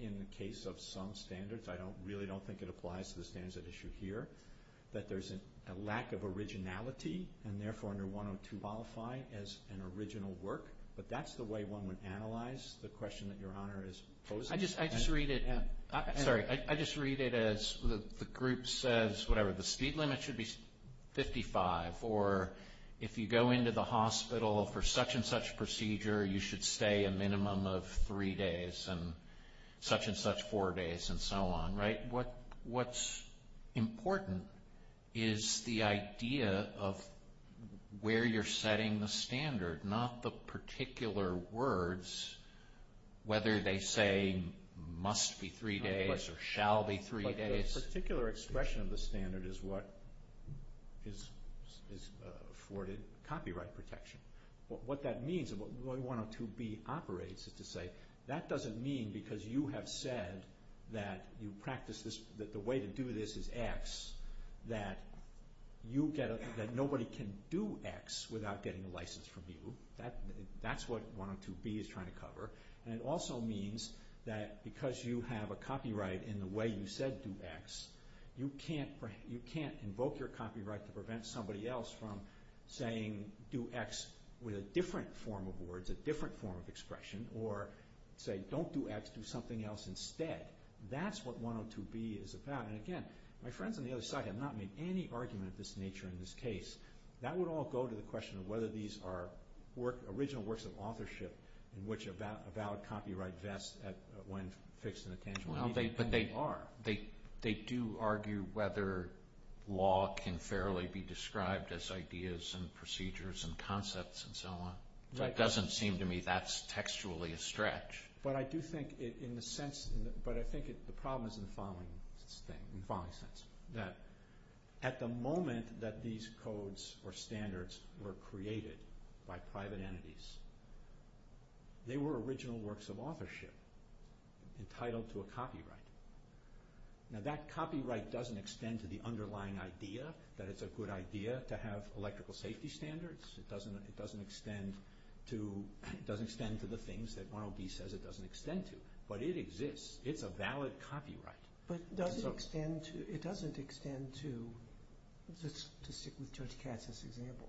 in the case of some standards, I really don't think it applies to the standards at issue here, that there's a lack of originality and, therefore, under 102 qualify as an original work. But that's the way one would analyze the question that Your Honor is posing. I just read it as the group says, whatever, the speed limit should be 55, or if you go into the hospital for such-and-such procedure, you should stay a minimum of three days and such-and-such four days and so on. What's important is the idea of where you're setting the standard, not the particular words, whether they say must be three days or shall be three days. But the particular expression of the standard is what is afforded copyright protection. What that means, and what 102B operates to say, that doesn't mean because you have said that you practice this, that the way to do this is X, that nobody can do X without getting a license from you. That's what 102B is trying to cover. And it also means that because you have a copyright in the way you said do X, you can't invoke your copyright to prevent somebody else from saying do X with a different form of words, a different form of expression, or say don't do X, do something else instead. That's what 102B is about. And again, my friends on the other side have not made any argument of this nature in this case. That would all go to the question of whether these are original works of authorship in which a valid copyright vests when fixed in a tangible way. But they are. They do argue whether law can fairly be described as ideas and procedures and concepts and so on. It doesn't seem to me that's textually a stretch. But I do think in a sense, but I think the problem is in the following sense, that at the moment that these codes or standards were created by private entities, they were original works of authorship entitled to a copyright. Now that copyright doesn't extend to the underlying idea that it's a good idea to have electrical safety standards. It doesn't extend to the things that 102B says it doesn't extend to. But it exists. It's a valid copyright. But it doesn't extend to, let's stick with Judge Katz's example.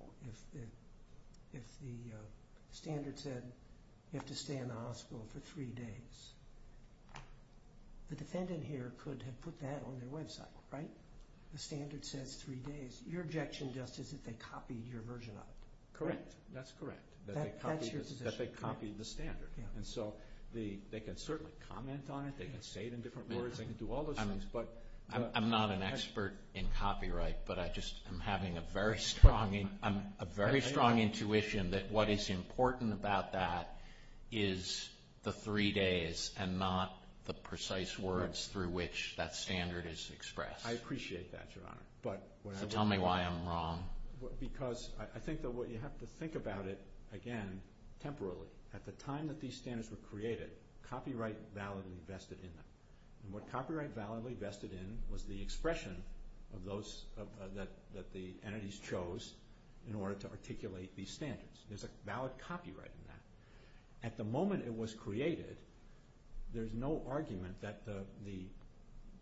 If the standard said you have to stay in the hospital for three days, the defendant here could have put that on their website, right? The standard said three days. Your objection just isn't they copied your version of it. Correct. That's correct. That they copied the standard. And so they can certainly comment on it. They can say it in different words. They can do all those things. I'm not an expert in copyright, but I just am having a very strong intuition that what is important about that is the three days and not the precise words through which that standard is expressed. I appreciate that, Your Honor. Tell me why I'm wrong. Because I think that what you have to think about it, again, temporarily. At the time that these standards were created, copyright was validly vested in them. And what copyright validly vested in was the expression that the entities chose in order to articulate these standards. There's a valid copyright in that. At the moment it was created, there's no argument that the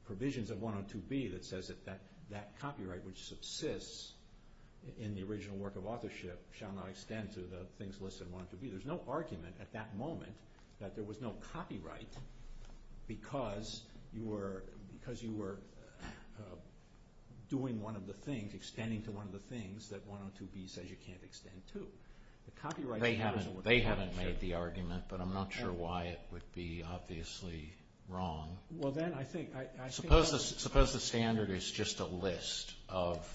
provisions of 102B that says that that copyright which subsists in the original work of authorship shall not extend to the things listed in 102B. There's no argument at that moment that there was no copyright because you were doing one of the things, extending to one of the things, that 102B says you can't extend to. They haven't made the argument, but I'm not sure why it would be obviously wrong. Suppose the standard is just a list of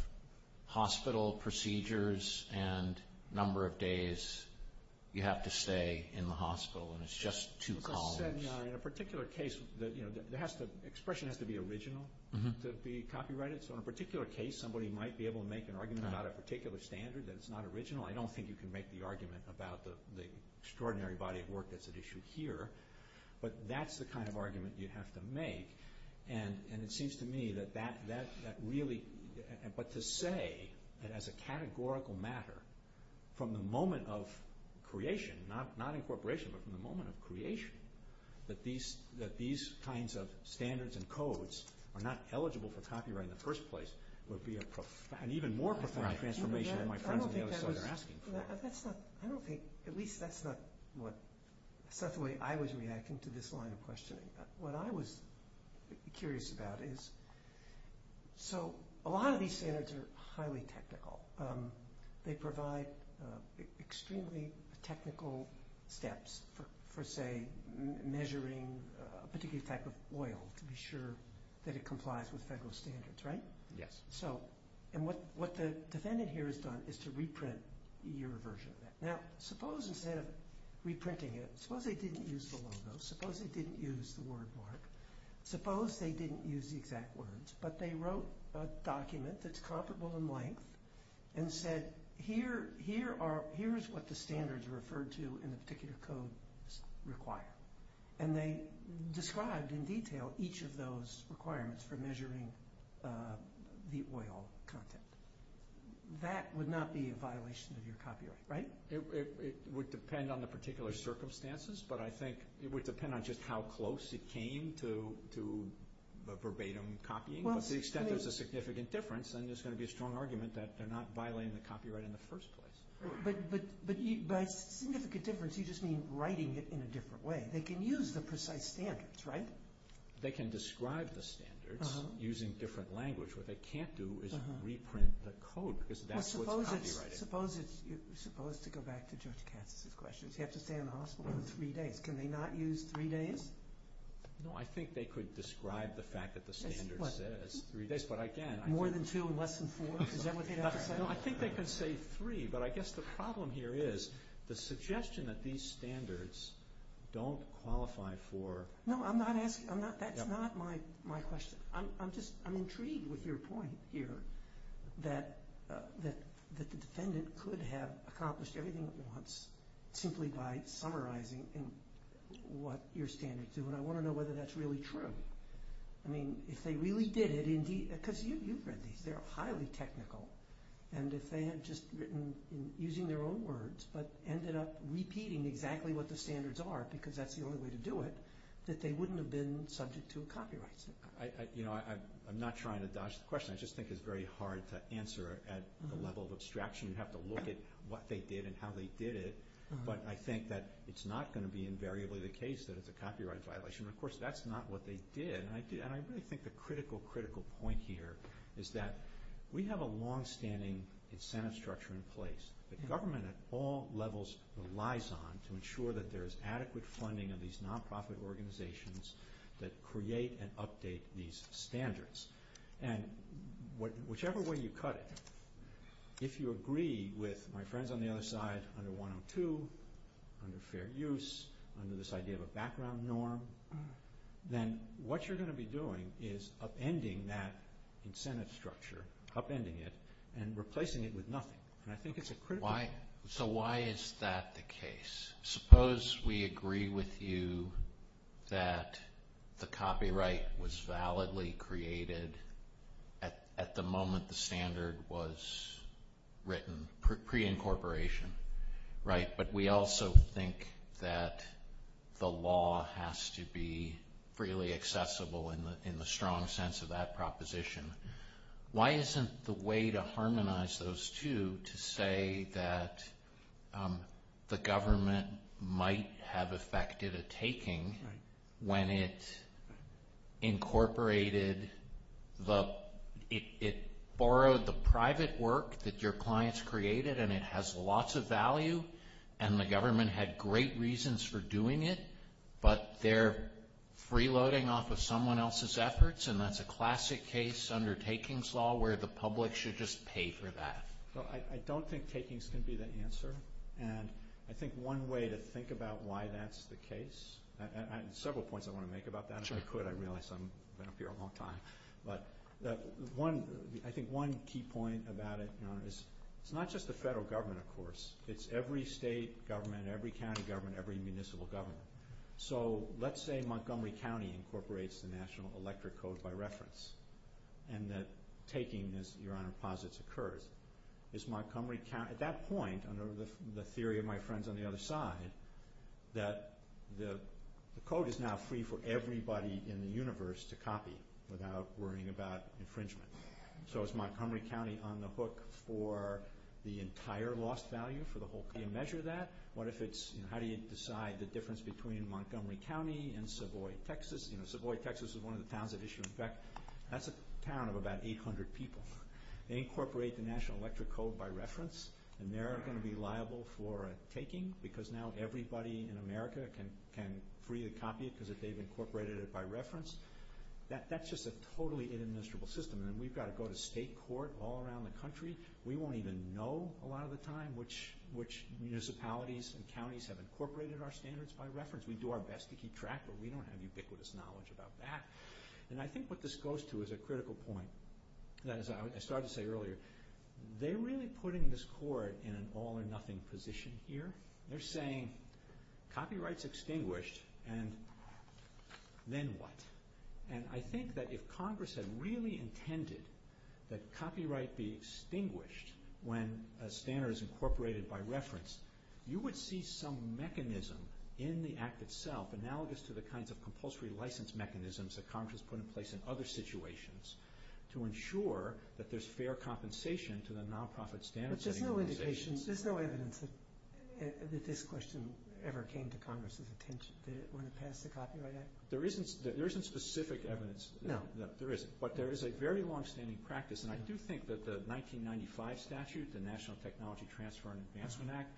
hospital procedures and number of days you have to stay in the hospital and it's just two columns. In a particular case, the expression has to be original to be copyrighted. So in a particular case, somebody might be able to make an argument about a particular standard that's not original. I don't think you can make the argument about the extraordinary body of work that's at issue here. But that's the kind of argument you have to make. And it seems to me that that really, but to say that as a categorical matter, from the moment of creation, not incorporation, but from the moment of creation, that these kinds of standards and codes are not eligible for copyright in the first place would be an even more profound transformation than my friends on the other side are asking for. At least that's not the way I was reacting to this line of questioning. What I was curious about is, so a lot of these standards are highly technical. They provide extremely technical steps for, say, measuring a particular type of oil to be sure that it complies with federal standards, right? Yes. And what the defendant here has done is to reprint your version. Now suppose instead of reprinting it, suppose they didn't use the logo, suppose they didn't use the word mark, suppose they didn't use the exact words, but they wrote a document that's comparable in length and said, here's what the standards are referred to in a particular code require. And they described in detail each of those requirements for measuring the oil content. That would not be a violation of your copyright, right? It would depend on the particular circumstances, but I think it would depend on just how close it came to the verbatim copying. To the extent there's a significant difference, then there's going to be a strong argument that they're not violating the copyright in the first place. But by significant difference, you just mean writing it in a different way. They can use the precise standards, right? They can describe the standards using different language. What they can't do is reprint the code because that's what's copyrighted. But suppose it's supposed to go back to Judge Katz's question. You have to stay in the hospital for three days. Can they not use three days? No, I think they could describe the fact that the standard says three days, but I can't. More than two, less than four? Is that what they'd have to say? No, I think they could say three, but I guess the problem here is the suggestion that these standards don't qualify for— No, that's not my question. I'm intrigued with your point here that the defendant could have accomplished everything at once simply by summarizing what your standards do, and I want to know whether that's really true. I mean, if they really did it—because you've read these. They're highly technical, and if they had just written using their own words but ended up repeating exactly what the standards are because that's the only way to do it, that they wouldn't have been subject to a copyright suit. I'm not trying to dodge the question. I just think it's very hard to answer at the level of abstraction. You'd have to look at what they did and how they did it, but I think that it's not going to be invariably the case that it's a copyright violation. Of course, that's not what they did, and I really think the critical, critical point here is that we have a longstanding incentive structure in place that government at all levels relies on to ensure that there's adequate funding in these nonprofit organizations that create and update these standards, and whichever way you cut it, if you agree with my friends on the other side, under 102, under fair use, under this idea of a background norm, then what you're going to be doing is upending that incentive structure, upending it, and replacing it with nothing, and I think it's a critical— So why is that the case? Suppose we agree with you that the copyright was validly created at the moment the standard was written, pre-incorporation, right? But we also think that the law has to be freely accessible in the strong sense of that proposition. Why isn't the way to harmonize those two to say that the government might have affected a taking when it incorporated—it borrowed the private work that your clients created, and it has lots of value, and the government had great reasons for doing it, but they're freeloading off of someone else's efforts, and that's a classic case under takings law where the public should just pay for that. I don't think takings can be the answer, and I think one way to think about why that's the case, and several points I want to make about that. If I could, I realize I've been up here a long time. But I think one key point about it is it's not just the federal government, of course. It's every state government, every county government, every municipal government. So let's say Montgomery County incorporates the National Electric Code by reference, and that taking these uranium deposits occurred. Is Montgomery County—at that point, under the theory of my friends on the other side, that the code is now free for everybody in the universe to copy without worrying about infringement. So is Montgomery County on the hook for the entire lost value, for the whole thing to measure that? What if it's—how do you decide the difference between Montgomery County and Savoy, Texas? Savoy, Texas is one of the towns that issued—that's a town of about 800 people. They incorporate the National Electric Code by reference, and they're going to be liable for a taking because now everybody in America can freely copy it because they've incorporated it by reference. That's just a totally inadministrable system, and we've got to go to state court all around the country. We won't even know a lot of the time which municipalities and counties have incorporated our standards by reference. We do our best to keep track, but we don't have ubiquitous knowledge about that. And I think what this goes to is a critical point. As I started to say earlier, they're really putting this court in an all-or-nothing position here. They're saying copyright's extinguished, and then what? And I think that if Congress had really intended that copyright be extinguished when a standard is incorporated by reference, you would see some mechanism in the Act itself, analogous to the kinds of compulsory license mechanisms that Congress has put in place in other situations to ensure that there's fair compensation to the nonprofit standard-setting organizations. But there's no indication, there's no evidence that this question ever came to Congress's attention when it passed the Copyright Act? There isn't specific evidence that there is, but there is a very longstanding practice, and I do think that the 1995 statute, the National Technology Transfer and Enhancement Act,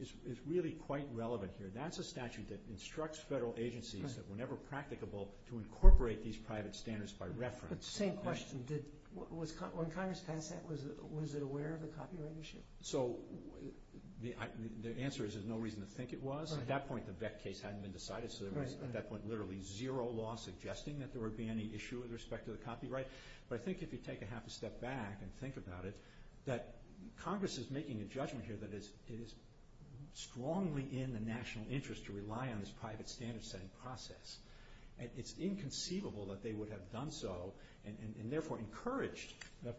is really quite relevant here. That's a statute that instructs federal agencies that were never practicable to incorporate these private standards by reference. Same question. When Congress passed that, was it aware of the copyright issue? So the answer is there's no reason to think it was. At that point, the Vette case hadn't been decided, so there was, at that point, literally zero law suggesting that there would be any issue with respect to the copyright. But I think if you take a half a step back and think about it, that Congress is making a judgment here that it is strongly in the national interest to rely on this private standard-setting process. And it's inconceivable that they would have done so and therefore encouraged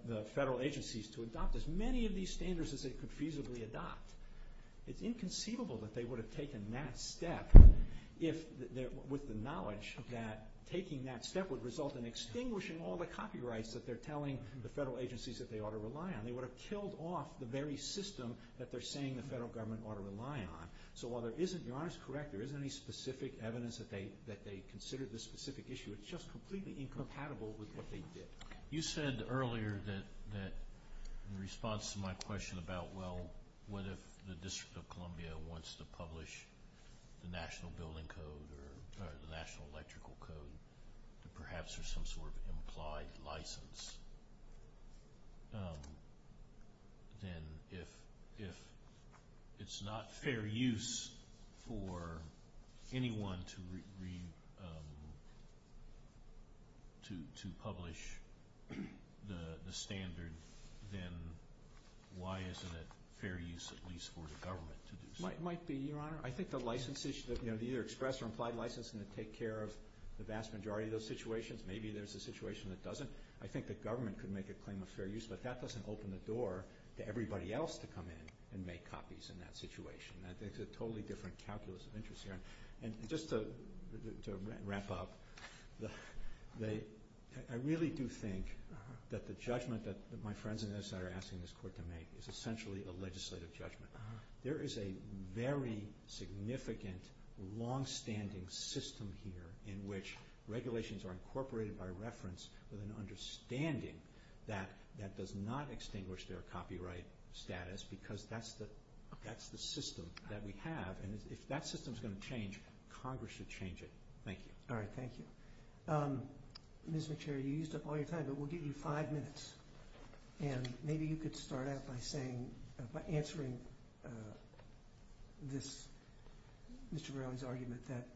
the federal agencies to adopt as many of these standards as they could feasibly adopt. It's inconceivable that they would have taken that step with the knowledge that taking that step would result in extinguishing all the copyrights that they're telling the federal agencies that they ought to rely on. They would have killed off the very system that they're saying the federal government ought to rely on. So while there isn't, you're honest, correct, there isn't any specific evidence that they considered this specific issue. It's just completely incompatible with what they did. You said earlier that in response to my question about, well, what if the District of Columbia wants to publish the National Building Code or the National Electrical Code, and perhaps there's some sort of implied license, then if it's not fair use for anyone to publish the standard, then why isn't it fair use at least for the government to do so? It might be, Your Honor. I think the license issue, the express or implied license is going to take care of the vast majority of those situations. Maybe there's a situation that doesn't. I think the government could make a claim of fair use, but that doesn't open the door to everybody else to come in and make copies in that situation. It's a totally different calculus of interest here. And just to wrap up, I really do think that the judgment that my friends on the other side are asking this Court to make is essentially a legislative judgment. There is a very significant longstanding system here in which regulations are incorporated by reference with an understanding that that does not extinguish their copyright status because that's the system that we have. And if that system is going to change, Congress should change it. Thank you. All right. Thank you. Mr. Chair, you used up all your time, but we'll give you five minutes. And maybe you could start out by answering Mr. Brown's argument that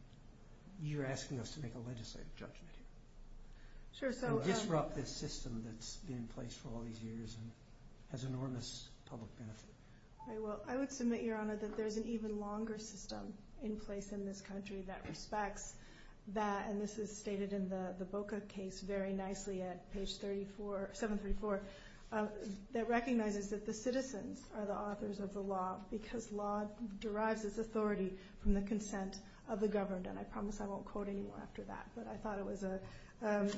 you're asking us to make a legislative judgment. Sure. Disrupt this system that's been in place for all these years and has enormous public benefit. I will. There's an even longer system in place in this country that respects that, and this is stated in the Boca case very nicely at page 734, that recognizes that the citizens are the authors of the law because law derives its authority from the consent of the governed. And I promise I won't quote any more after that. But I thought it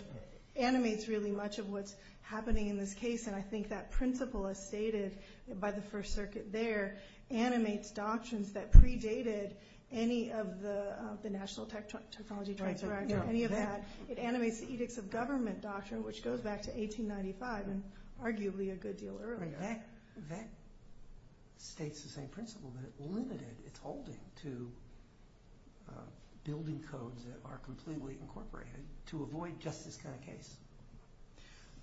animates really much of what's happening in this case. And I think that principle, as stated by the First Circuit there, animates doctrines that predated any of the national technology doctrines or any of that. It animates the edicts of government doctrine, which goes back to 1895 and arguably a good deal earlier. That states the same principle, but it limited its holding to building codes that are completely incorporated to avoid just this kind of case.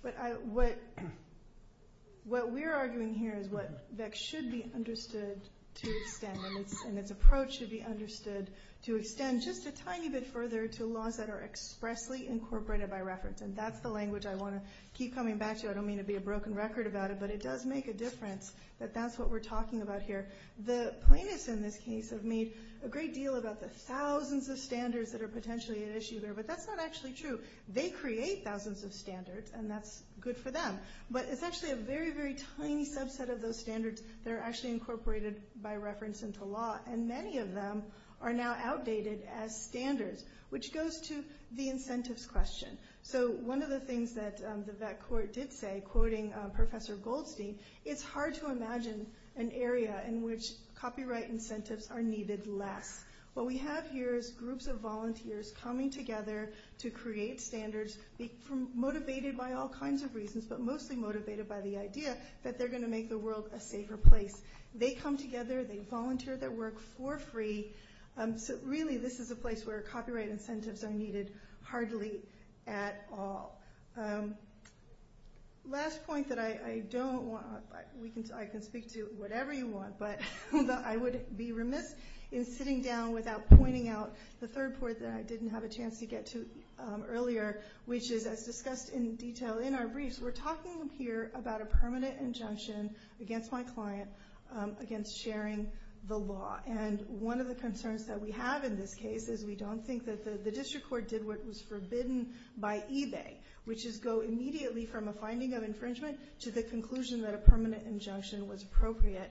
But what we're arguing here is that that should be understood to extend, and its approach should be understood to extend just a tiny bit further to laws that are expressly incorporated by reference. And that's the language I want to keep coming back to. I don't mean to be a broken record about it, but it does make a difference that that's what we're talking about here. The plaintiffs in this case have made a great deal about the thousands of standards that are potentially at issue there, but that's not actually true. They create thousands of standards, and that's good for them. But it's actually a very, very tiny subset of those standards that are actually incorporated by reference into law, and many of them are now outdated as standards, which goes to the incentives question. So one of the things that the vet court did say, quoting Professor Goldstein, it's hard to imagine an area in which copyright incentives are needed less. What we have here is groups of volunteers coming together to create standards, motivated by all kinds of reasons, but mostly motivated by the idea that they're going to make the world a safer place. They come together, they volunteer their work for free, so really this is a place where copyright incentives are needed hardly at all. Last point that I don't want – I can speak to whatever you want, but I would be remiss in sitting down without pointing out the third point that I didn't have a chance to get to earlier, which is, as discussed in detail in our briefs, we're talking here about a permanent injunction against my client against sharing the law. And one of the concerns that we have in this case is we don't think that the district court did what was forbidden by eBay, which is go immediately from a finding of infringement to the conclusion that a permanent injunction was appropriate,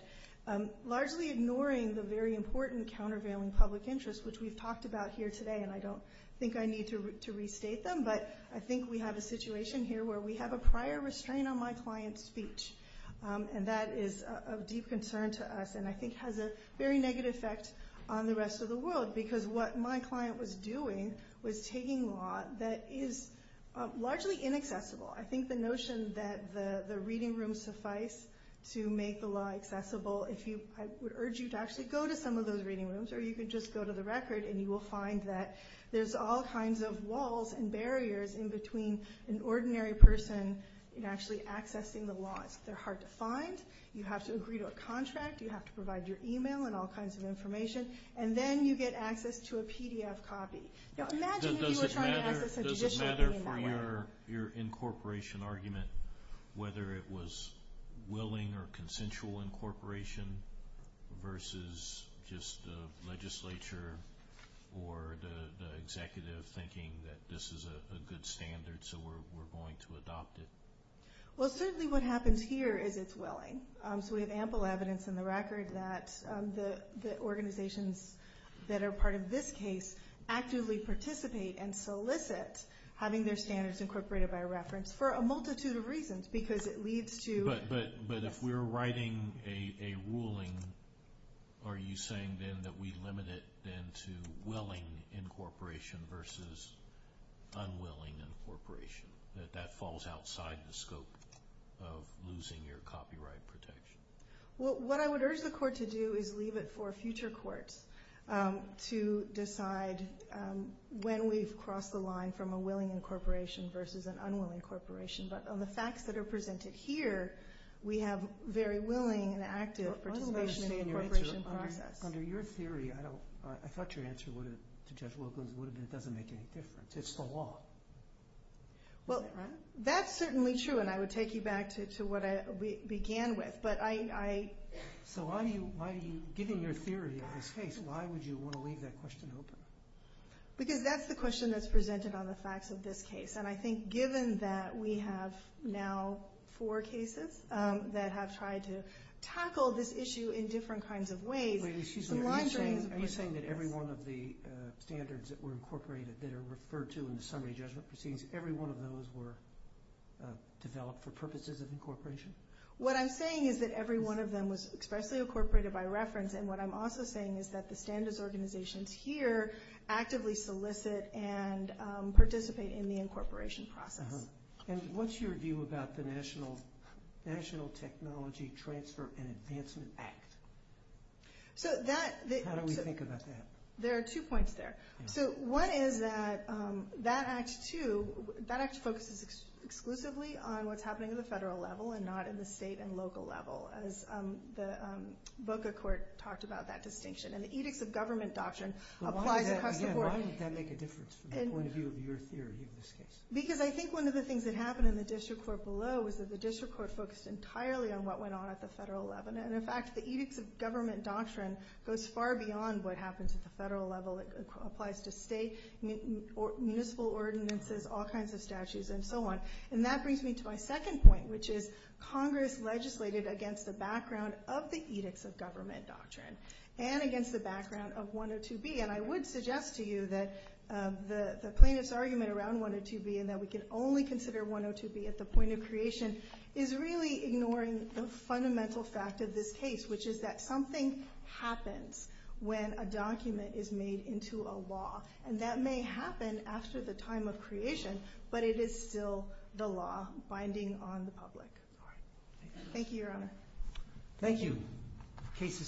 largely ignoring the very important countervailing public interest, which we've talked about here today. And I don't think I need to restate them, but I think we have a situation here where we have a prior restraint on my client's speech, and that is of deep concern to us and I think has a very negative effect on the rest of the world, because what my client was doing was taking law that is largely inaccessible. I think the notion that the reading rooms suffice to make the law accessible, I would urge you to actually go to some of those reading rooms, or you could just go to the record, and you will find that there's all kinds of walls and barriers in between an ordinary person actually accessing the law. They're hard to find, you have to agree to a contract, you have to provide your email and all kinds of information, and then you get access to a PDF copy. Does it matter for your incorporation argument whether it was willing or consensual incorporation versus just the legislature or the executive thinking that this is a good standard so we're going to adopt it? Well, certainly what happens here is it's willing. So we have ample evidence in the record that the organizations that are part of this case actively participate and solicit having their standards incorporated by reference for a multitude of reasons, because it leads to- But if we're writing a ruling, are you saying then that we limit it then to willing incorporation versus unwilling incorporation, that that falls outside the scope of losing your copyright protection? Well, what I would urge the court to do is leave it for future courts to decide when we've crossed the line from a willing incorporation versus an unwilling incorporation. But on the facts that are presented here, we have very willing and active participation in the incorporation process. But under your theory, I thought your answer to Judge Lopez would have been it doesn't make any difference. It's the law. Well, that's certainly true, and I would take you back to what I began with, but I- So why, given your theory of this case, why would you want to leave that question open? Because that's the question that's presented on the facts of this case, and I think given that we have now four cases that have tried to tackle this issue in different kinds of ways, laundering- Are you saying that every one of the standards that were incorporated that are referred to in the summary judgment proceedings, every one of those were developed for purposes of incorporation? What I'm saying is that every one of them was expressly incorporated by reference, and what I'm also saying is that the standards organizations here actively solicit and participate in the incorporation process. And what's your view about the National Technology Transfer and Advancement Act? So that- How do we think about that? There are two points there. So one is that that act, too, that act focuses exclusively on what's happening at the federal level and not at the state and local level, as both the court talked about that distinction. And the edicts of government doctrine apply to- Why does that make a difference to the point of view of your theory of this case? Because I think one of the things that happened in the district court below was that the district court focused entirely on what went on at the federal level. And, in fact, the edicts of government doctrine goes far beyond what happens at the federal level. It applies to state, municipal ordinances, all kinds of statutes, and so on. And that brings me to my second point, which is Congress legislated against the background of the edicts of government doctrine and against the background of 102B. And I would suggest to you that the plaintiff's argument around 102B and that we can only consider 102B at the point of creation is really ignoring the fundamental fact of this case, which is that something happens when a document is made into a law. And that may happen after the time of creation, but it is still the law binding on the public. Thank you, Your Honor. Thank you. Case is submitted.